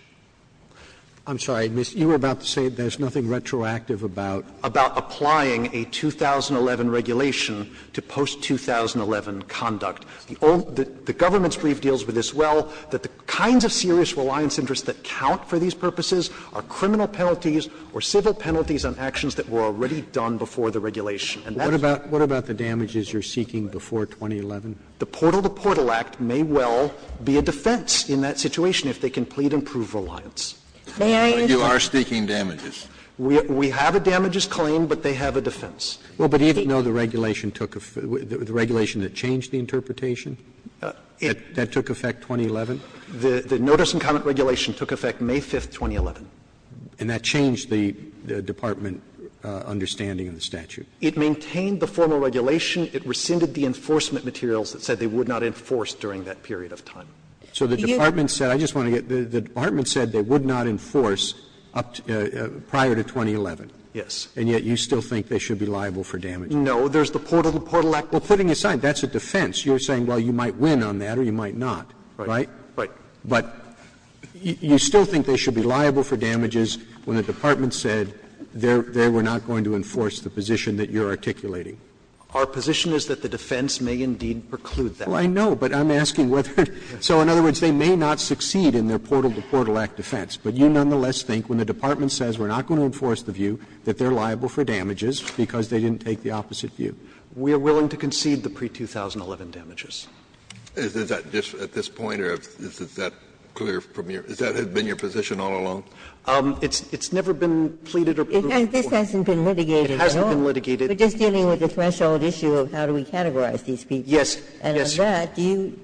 I'm sorry, you were about to say there's nothing retroactive about? About applying a 2011 regulation to post-2011 conduct. The government's brief deals with this well, that the kinds of serious reliance interests that count for these purposes are criminal penalties or civil penalties on actions that were already done before the regulation. What about the damages you're seeking before 2011? The Portal to Portal Act may well be a defense in that situation if they can plead and prove reliance. May I interrupt? You are seeking damages. We have a damages claim, but they have a defense. Well, but even though the regulation took the regulation that changed the interpretation, that took effect 2011? The notice and comment regulation took effect May 5th, 2011. And that changed the department understanding of the statute? It maintained the formal regulation. It rescinded the enforcement materials that said they would not enforce during that period of time. So the department said, I just want to get the department said they would not enforce prior to 2011. Yes. And yet you still think they should be liable for damages? No. There's the Portal to Portal Act. Well, putting aside, that's a defense. You're saying, well, you might win on that or you might not, right? Right. But you still think they should be liable for damages when the department said they were not going to enforce the position that you're articulating? Our position is that the defense may indeed preclude that. Well, I know, but I'm asking whether they're going to enforce the view that they're liable for damages because they didn't take the opposite view. So in other words, they may not succeed in their Portal to Portal Act defense, but you nonetheless think when the department says we're not going to enforce the view that they're liable for damages because they didn't take the opposite view. We are willing to concede the pre-2011 damages. Is that just at this point or is that clear from your – has that been your position all along? It's never been pleaded or approved before. It hasn't been litigated at all. It hasn't been litigated. We're just dealing with the threshold issue of how do we categorize these people. Yes. Yes, Your Honor. And on that, do you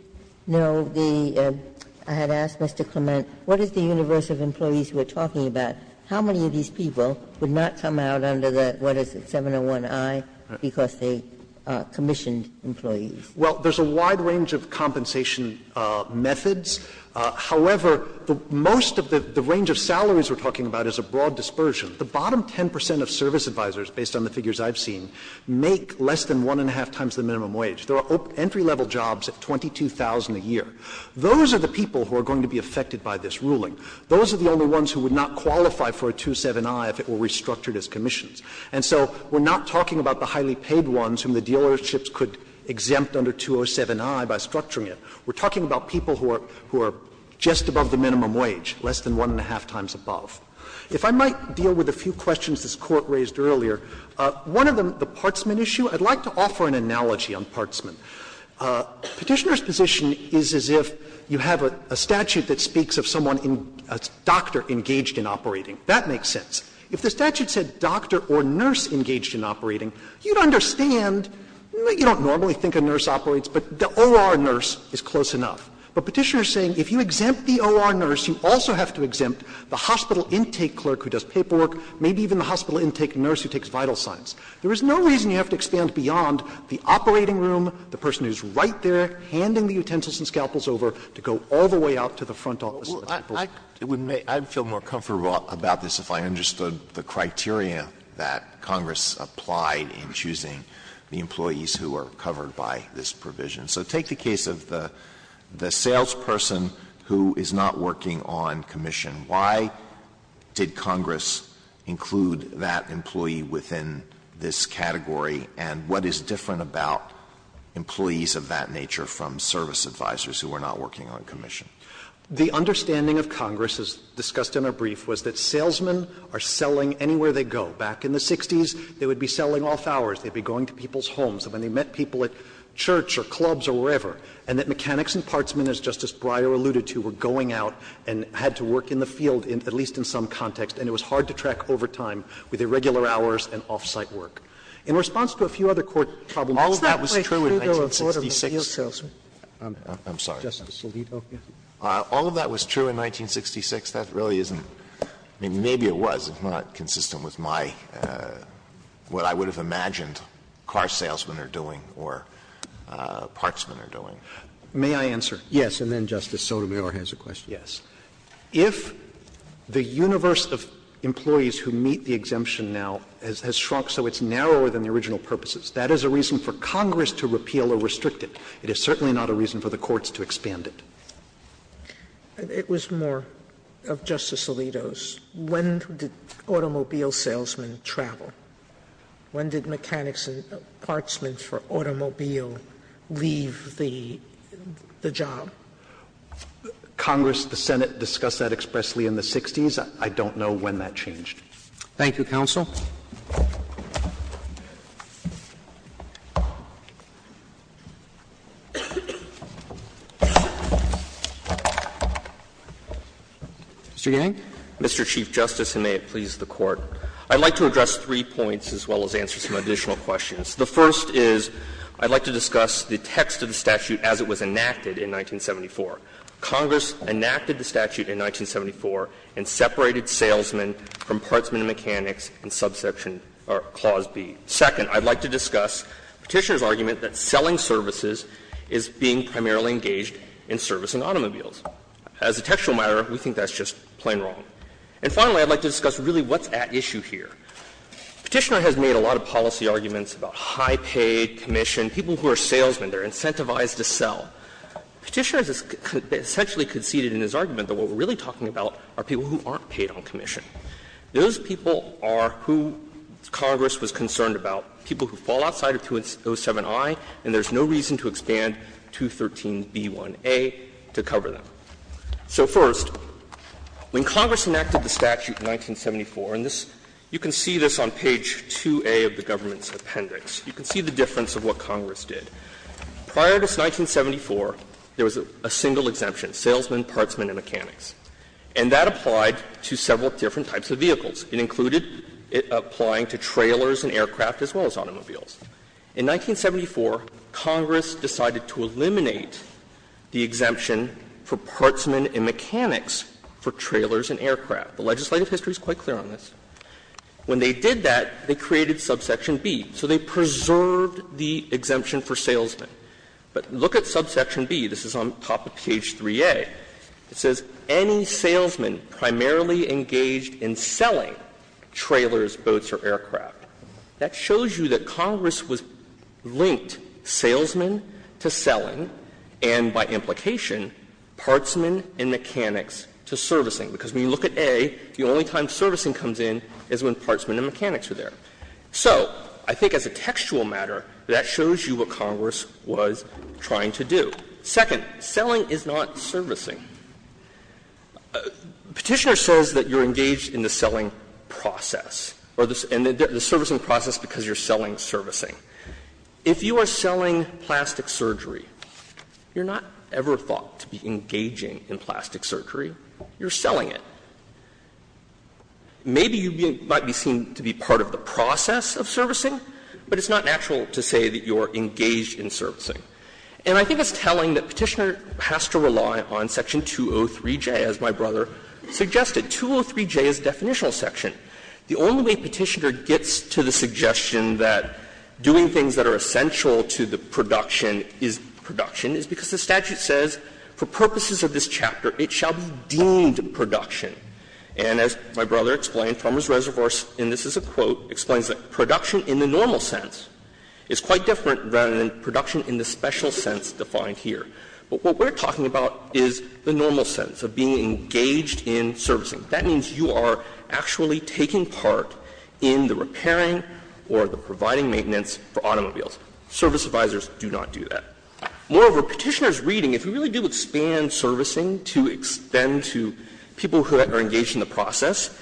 know the – I had asked Mr. Clement, what is the universe of employees we're talking about? How many of these people would not come out under the, what is it, 701i because they commissioned employees? Well, there's a wide range of compensation methods. However, most of the range of salaries we're talking about is a broad dispersion. The bottom 10 percent of service advisors, based on the figures I've seen, make less than one and a half times the minimum wage. There are entry-level jobs at 22,000 a year. Those are the people who are going to be affected by this ruling. Those are the only ones who would not qualify for a 207i if it were restructured as commissions. And so we're not talking about the highly paid ones whom the dealerships could exempt under 207i by structuring it. We're talking about people who are just above the minimum wage, less than one and a half times above. If I might deal with a few questions this Court raised earlier. One of them, the partsman issue, I'd like to offer an analogy on partsman. Petitioner's position is as if you have a statute that speaks of someone, a doctor engaged in operating. That makes sense. If the statute said doctor or nurse engaged in operating, you'd understand You don't normally think a nurse operates, but the OR nurse is close enough. But Petitioner is saying if you exempt the OR nurse, you also have to exempt the hospital intake clerk who does paperwork, maybe even the hospital intake nurse who takes vital signs. There is no reason you have to expand beyond the operating room, the person who is right there handing the utensils and scalpels over to go all the way out to the front office. Alito, I would feel more comfortable about this if I understood the criteria that Congress applied in choosing the employees who are covered by this provision. So take the case of the salesperson who is not working on commission. Why did Congress include that employee within this category, and what is different about employees of that nature from service advisors who are not working on commission? The understanding of Congress, as discussed in our brief, was that salesmen are selling anywhere they go. Back in the 60s, they would be selling off hours. They would be going to people's homes. When they met people at church or clubs or wherever, and that mechanics and partsmen, as Justice Breyer alluded to, were going out and had to work in the field, at least in some context, and it was hard to track over time with irregular hours and off-site work. In response to a few other court problems, all of that was true in 1966. Sotomayor, I'm sorry. Justice Alito. All of that was true in 1966. That really isn't – I mean, maybe it was, if not consistent with my – what I would have imagined car salesmen are doing or partsmen are doing. May I answer? Yes. And then Justice Sotomayor has a question. Yes. If the universe of employees who meet the exemption now has shrunk so it's narrower than the original purposes, that is a reason for Congress to repeal or restrict it. It is certainly not a reason for the courts to expand it. It was more of Justice Alito's. When did automobile salesmen travel? When did mechanics and partsmen for automobile leave the job? Congress, the Senate, discussed that expressly in the 1960s. I don't know when that changed. Thank you, counsel. Mr. Yang. Mr. Chief Justice, and may it please the Court. I'd like to address three points as well as answer some additional questions. The first is I'd like to discuss the text of the statute as it was enacted in 1974. Congress enacted the statute in 1974 and separated salesmen from partsmen and mechanics in subsection or Clause B. Second, I'd like to discuss Petitioner's argument that selling services is being primarily engaged in servicing automobiles. As a textual matter, we think that's just plain wrong. And finally, I'd like to discuss really what's at issue here. Petitioner has made a lot of policy arguments about high paid commission, people who are salesmen, they're incentivized to sell. Petitioner has essentially conceded in his argument that what we're really talking about are people who aren't paid on commission. Those people are who Congress was concerned about, people who fall outside of 207i, and there's no reason to expand 213b1a to cover them. So first, when Congress enacted the statute in 1974, and this you can see this on page 2a of the government's appendix, you can see the difference of what Congress did. Prior to 1974, there was a single exemption, salesmen, partsmen, and mechanics. And that applied to several different types of vehicles. It included applying to trailers and aircraft as well as automobiles. In 1974, Congress decided to eliminate the exemption for partsmen and mechanics for trailers and aircraft. The legislative history is quite clear on this. When they did that, they created subsection B. So they preserved the exemption for salesmen. But look at subsection B. This is on top of page 3a. It says, "...any salesman primarily engaged in selling trailers, boats, or aircraft." That shows you that Congress was linked salesmen to selling, and by implication, partsmen and mechanics to servicing. Because when you look at A, the only time servicing comes in is when partsmen and mechanics are there. So I think as a textual matter, that shows you what Congress was trying to do. Second, selling is not servicing. Petitioner says that you're engaged in the selling process, or the servicing process because you're selling servicing. If you are selling plastic surgery, you're not ever thought to be engaging in plastic surgery. You're selling it. Maybe you might be seen to be part of the process of servicing, but it's not natural to say that you're engaged in servicing. And I think it's telling that Petitioner has to rely on section 203J, as my brother suggested. 203J is the definitional section. The only way Petitioner gets to the suggestion that doing things that are essential to the production is production is because the statute says, for purposes of this chapter, it shall be deemed production. And as my brother explained, Farmer's Reservoirs, and this is a quote, explains it, production in the normal sense is quite different than production in the special sense defined here. But what we're talking about is the normal sense of being engaged in servicing. That means you are actually taking part in the repairing or the providing maintenance for automobiles. Service advisors do not do that. Moreover, Petitioner's reading, if you really do expand servicing to extend to people who are engaged in the process,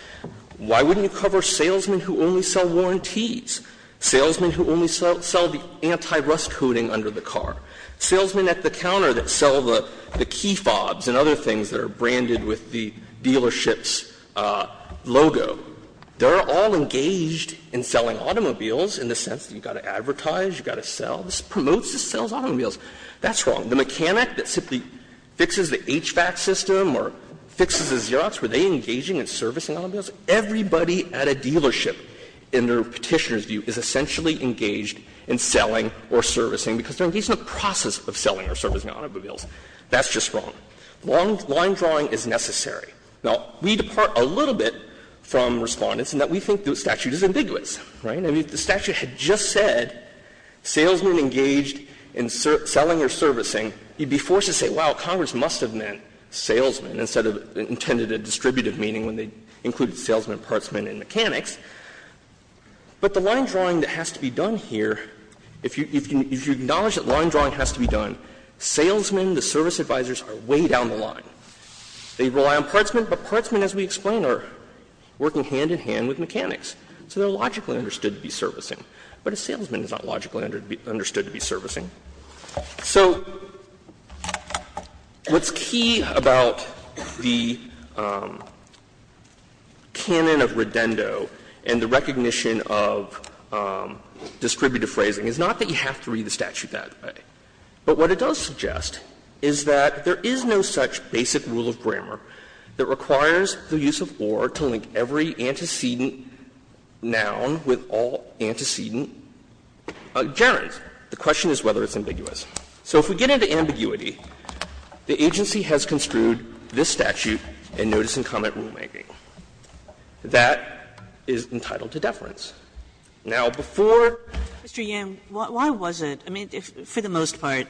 why wouldn't you cover salesmen who only sell warranty and warranties, salesmen who only sell the anti-rust coating under the car, salesmen at the counter that sell the key fobs and other things that are branded with the dealership's logo? They're all engaged in selling automobiles in the sense that you've got to advertise, you've got to sell. This promotes the sales of automobiles. That's wrong. The mechanic that simply fixes the HVAC system or fixes the Xerox, were they engaging in servicing automobiles? Everybody at a dealership, in the Petitioner's view, is essentially engaged in selling or servicing because they're engaged in the process of selling or servicing automobiles. That's just wrong. Long line drawing is necessary. Now, we depart a little bit from Respondents in that we think the statute is ambiguous. Right? I mean, if the statute had just said salesmen engaged in selling or servicing, you'd be forced to say, wow, Congress must have meant salesmen instead of intended distributive meaning when they included salesmen, partsmen, and mechanics. But the line drawing that has to be done here, if you acknowledge that line drawing has to be done, salesmen, the service advisors, are way down the line. They rely on partsmen, but partsmen, as we explain, are working hand in hand with mechanics. So they're logically understood to be servicing. But a salesman is not logically understood to be servicing. So what's key about the canon of Redendo and the recognition of distributive phrasing is not that you have to read the statute that way. But what it does suggest is that there is no such basic rule of grammar that requires the use of or to link every antecedent noun with all antecedent gerunds. So the question is whether it's ambiguous. So if we get into ambiguity, the agency has construed this statute in notice-and-comment rulemaking. That is entitled to deference. Now, before Mr. Yam, why was it? I mean, for the most part,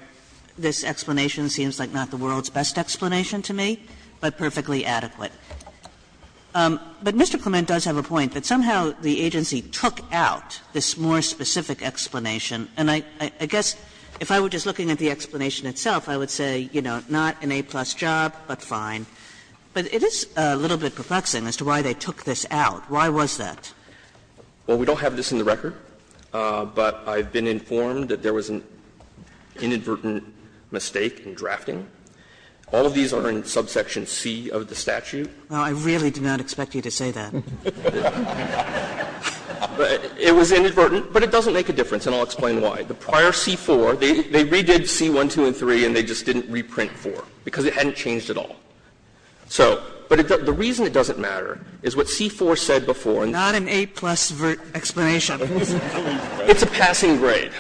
this explanation seems like not the world's best explanation to me, but perfectly adequate. But Mr. Clement does have a point, that somehow the agency took out this more specific explanation. And I guess if I were just looking at the explanation itself, I would say, you know, not an A-plus job, but fine. But it is a little bit perplexing as to why they took this out. Why was that? Clement, Well, we don't have this in the record, but I've been informed that there was an inadvertent mistake in drafting. All of these are in subsection C of the statute. Kagan. Well, I really did not expect you to say that. But it was inadvertent, but it doesn't make a difference, and I'll explain why. The prior C-4, they redid C-1, 2, and 3, and they just didn't reprint 4 because it hadn't changed at all. So, but the reason it doesn't matter is what C-4 said before. Sotomayor, Not an A-plus explanation. Clement, It's a passing grade.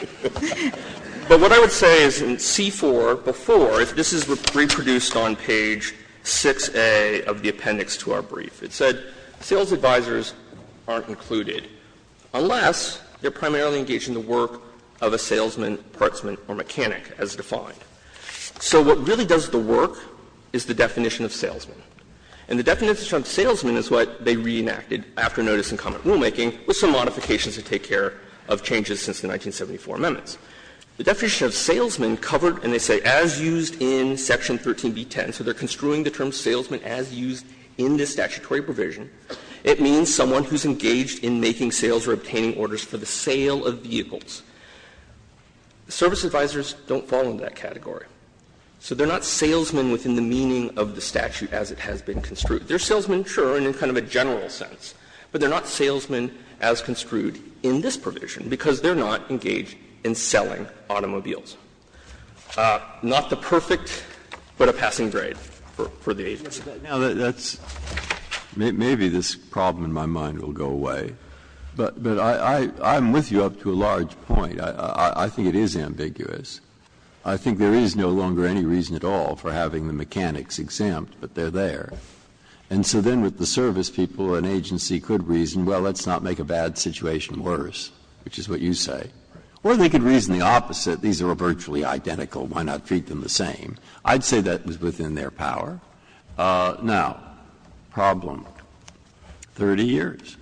But what I would say is in C-4 before, this is reproduced on page 6A of the appendix to our brief. It said, Sales advisors aren't included unless they're primarily engaged in the work of a salesman, partsman, or mechanic, as defined. So what really does the work is the definition of salesman. And the definition of salesman is what they reenacted after notice in common rulemaking with some modifications to take care of changes since the 1974 amendments. The definition of salesman covered, and they say, as used in section 13b-10. So they're construing the term salesman as used in this statutory provision. It means someone who's engaged in making sales or obtaining orders for the sale of vehicles. Service advisors don't fall into that category. So they're not salesmen within the meaning of the statute as it has been construed. They're salesmen, sure, in kind of a general sense, but they're not salesmen as construed in this provision because they're not engaged in selling automobiles. Not the perfect, but a passing grade for the agency. Breyer. Breyer. Now, that's – maybe this problem in my mind will go away, but I'm with you up to a large point. I think it is ambiguous. I think there is no longer any reason at all for having the mechanics exempt, but they're there. And so then with the service people, an agency could reason, well, let's not make a bad situation worse, which is what you say. Or they could reason the opposite. These are virtually identical. Why not treat them the same? I'd say that was within their power. Now, problem, 30 years.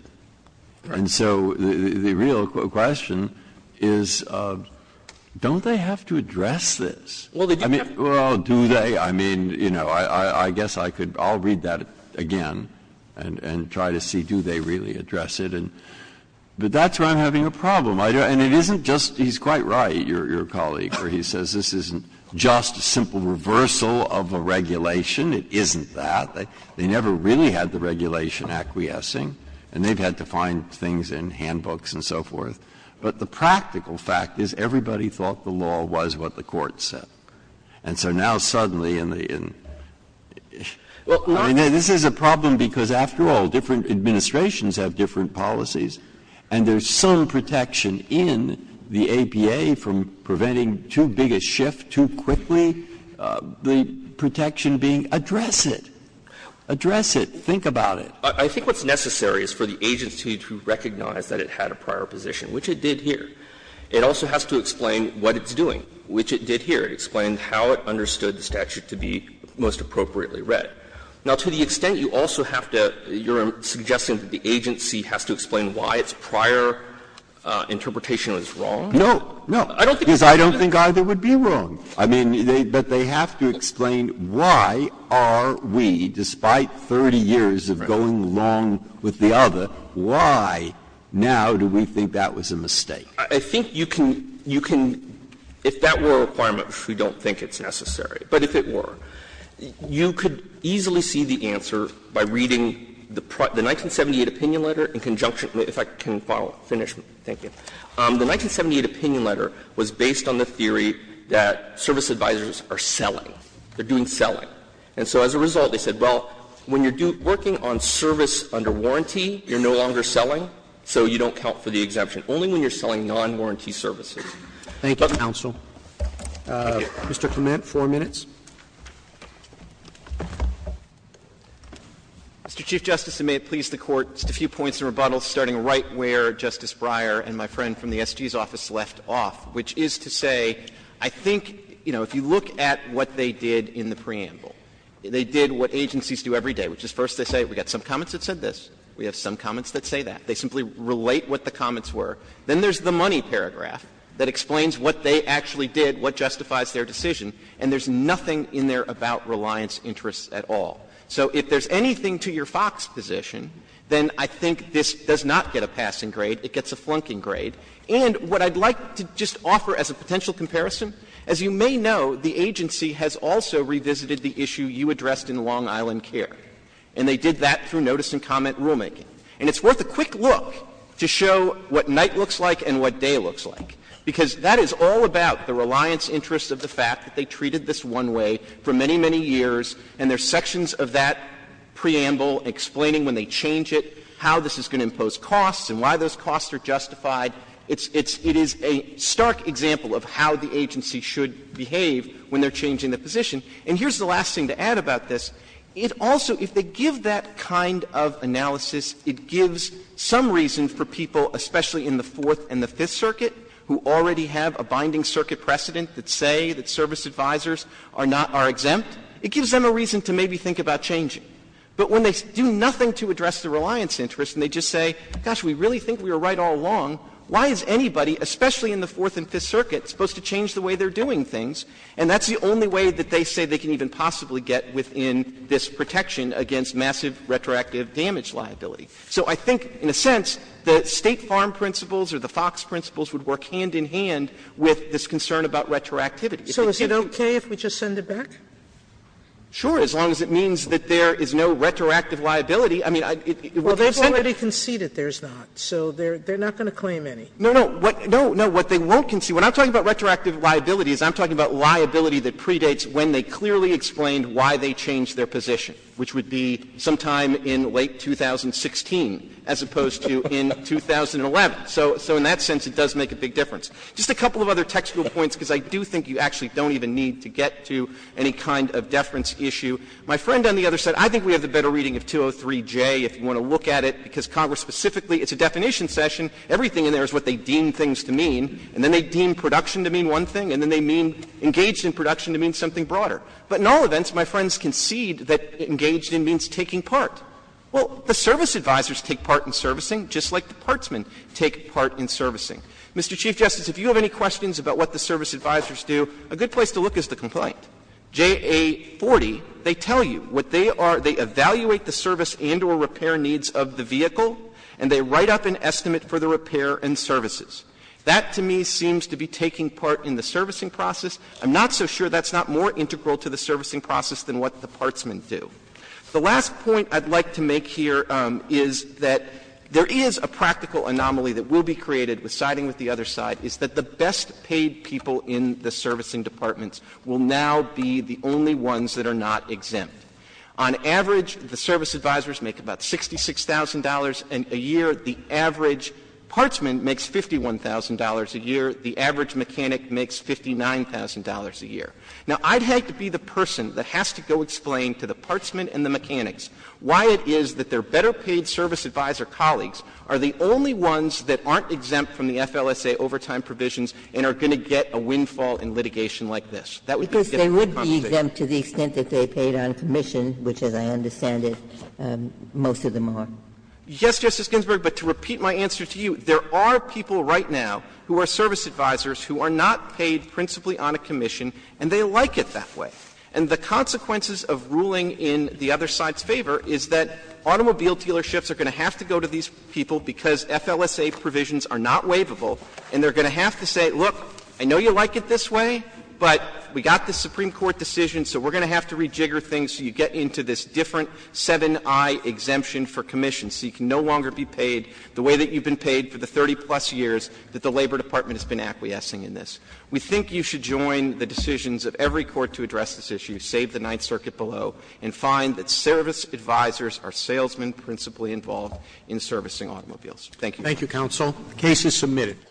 And so the real question is, don't they have to address this? I mean, do they? I mean, you know, I guess I could – I'll read that again and try to see do they really address it. But that's where I'm having a problem. And it isn't just – he's quite right, your colleague, where he says this isn't just a simple reversal of a regulation. It isn't that. They never really had the regulation acquiescing, and they've had to find things in handbooks and so forth. But the practical fact is everybody thought the law was what the Court said. And so now suddenly in the – I mean, this is a problem because, after all, different protection in the APA from preventing too big a shift too quickly, the protection being address it, address it, think about it. I think what's necessary is for the agency to recognize that it had a prior position, which it did here. It also has to explain what it's doing, which it did here. It explained how it understood the statute to be most appropriately read. Now, to the extent you also have to – you're suggesting that the agency has to explain why its prior interpretation was wrong? Breyer, I don't think either would be wrong. I mean, but they have to explain why are we, despite 30 years of going along with the other, why now do we think that was a mistake? I think you can – you can – if that were a requirement, we don't think it's necessary. But if it were, you could easily see the answer by reading the 1978 opinion letter in conjunction – if I can follow up, finish, thank you. The 1978 opinion letter was based on the theory that service advisors are selling. They're doing selling. And so as a result, they said, well, when you're working on service under warranty, you're no longer selling, so you don't count for the exemption, only when you're selling non-warranty services. Roberts. Roberts. Thank you, counsel. Mr. Clement, 4 minutes. Mr. Chief Justice, and may it please the Court, just a few points of rebuttal starting right where Justice Breyer and my friend from the SG's office left off, which is to say, I think, you know, if you look at what they did in the preamble, they did what agencies do every day, which is first they say we've got some comments that said this, we have some comments that say that. They simply relate what the comments were. Then there's the money paragraph that explains what they actually did, what justifies their decision, and there's nothing in there about reliance interests at all. So if there's anything to your fox position, then I think this does not get a passing grade. It gets a flunking grade. And what I'd like to just offer as a potential comparison, as you may know, the agency has also revisited the issue you addressed in Long Island Care, and they did that through notice and comment rulemaking. And it's worth a quick look to show what night looks like and what day looks like, because that is all about the reliance interests of the fact that they treated this one way for many, many years, and there's sections of that preamble explaining when they change it, how this is going to impose costs and why those costs are justified. It's — it is a stark example of how the agency should behave when they're changing the position. And here's the last thing to add about this. It also, if they give that kind of analysis, it gives some reason for people, especially in the Fourth and the Fifth Circuit, who already have a binding circuit precedent that say that service advisors are not — are exempt, it gives them a reason to maybe think about changing. But when they do nothing to address the reliance interests and they just say, gosh, we really think we were right all along, why is anybody, especially in the Fourth and Fifth Circuit, supposed to change the way they're doing things, and that's the only way that they say they can even possibly get within this protection against massive retroactive damage liability? So I think, in a sense, the State Farm principles or the Fox principles would work hand in hand with this concern about retroactivity. If they could do it. Sotomayor So is it okay if we just send it back? Clement Sure, as long as it means that there is no retroactive liability. I mean, it would consent to it. Sotomayor Well, they've already conceded there's not, so they're not going to claim any. Clement No, no. No, what they won't concede — what I'm talking about retroactive liability is I'm talking about liability that predates when they clearly explained why they changed their position, which would be sometime in late 2016, as opposed to in 2011. So in that sense, it does make a big difference. Just a couple of other technical points, because I do think you actually don't even need to get to any kind of deference issue. My friend on the other side, I think we have the better reading of 203J if you want to look at it, because Congress specifically, it's a definition session, everything in there is what they deem things to mean, and then they deem production to mean one thing, and then they mean engaged in production to mean something broader. But in all events, my friends concede that engaged in means taking part. Well, the service advisors take part in servicing, just like the partsmen take part in servicing. Mr. Chief Justice, if you have any questions about what the service advisors do, a good place to look is the complaint. JA40, they tell you what they are — they evaluate the service and or repair needs of the vehicle, and they write up an estimate for the repair and services. That, to me, seems to be taking part in the servicing process. I'm not so sure that's not more integral to the servicing process than what the partsmen do. The last point I'd like to make here is that there is a practical anomaly that will be created with siding with the other side, is that the best paid people in the servicing departments will now be the only ones that are not exempt. On average, the service advisors make about $66,000 a year. The average partsman makes $51,000 a year. The average mechanic makes $59,000 a year. Now, I'd have to be the person that has to go explain to the partsmen and the mechanics why it is that their better paid service advisor colleagues are the only ones that aren't exempt from the FLSA overtime provisions and are going to get a windfall in litigation like this. That would be a mistake. Ginsburg. Because they would be exempt to the extent that they paid on commission, which, as I understand it, most of them are. Yes, Justice Ginsburg, but to repeat my answer to you, there are people right now who are service advisors who are not paid principally on a commission, and they like it that way. And the consequences of ruling in the other side's favor is that automobile dealerships are going to have to go to these people because FLSA provisions are not waivable, and they're going to have to say, look, I know you like it this way, but we got this Supreme Court decision, so we're going to have to rejigger things so you get into this different 7i exemption for commission, so you can no longer be paid the way that you've been paid for the 30-plus years that the Labor Department has been acquiescing in this. We think you should join the decisions of every court to address this issue, save the Ninth Circuit below, and find that service advisors are salesmen principally involved in servicing automobiles. Thank you. Roberts. Thank you, counsel. The case is submitted.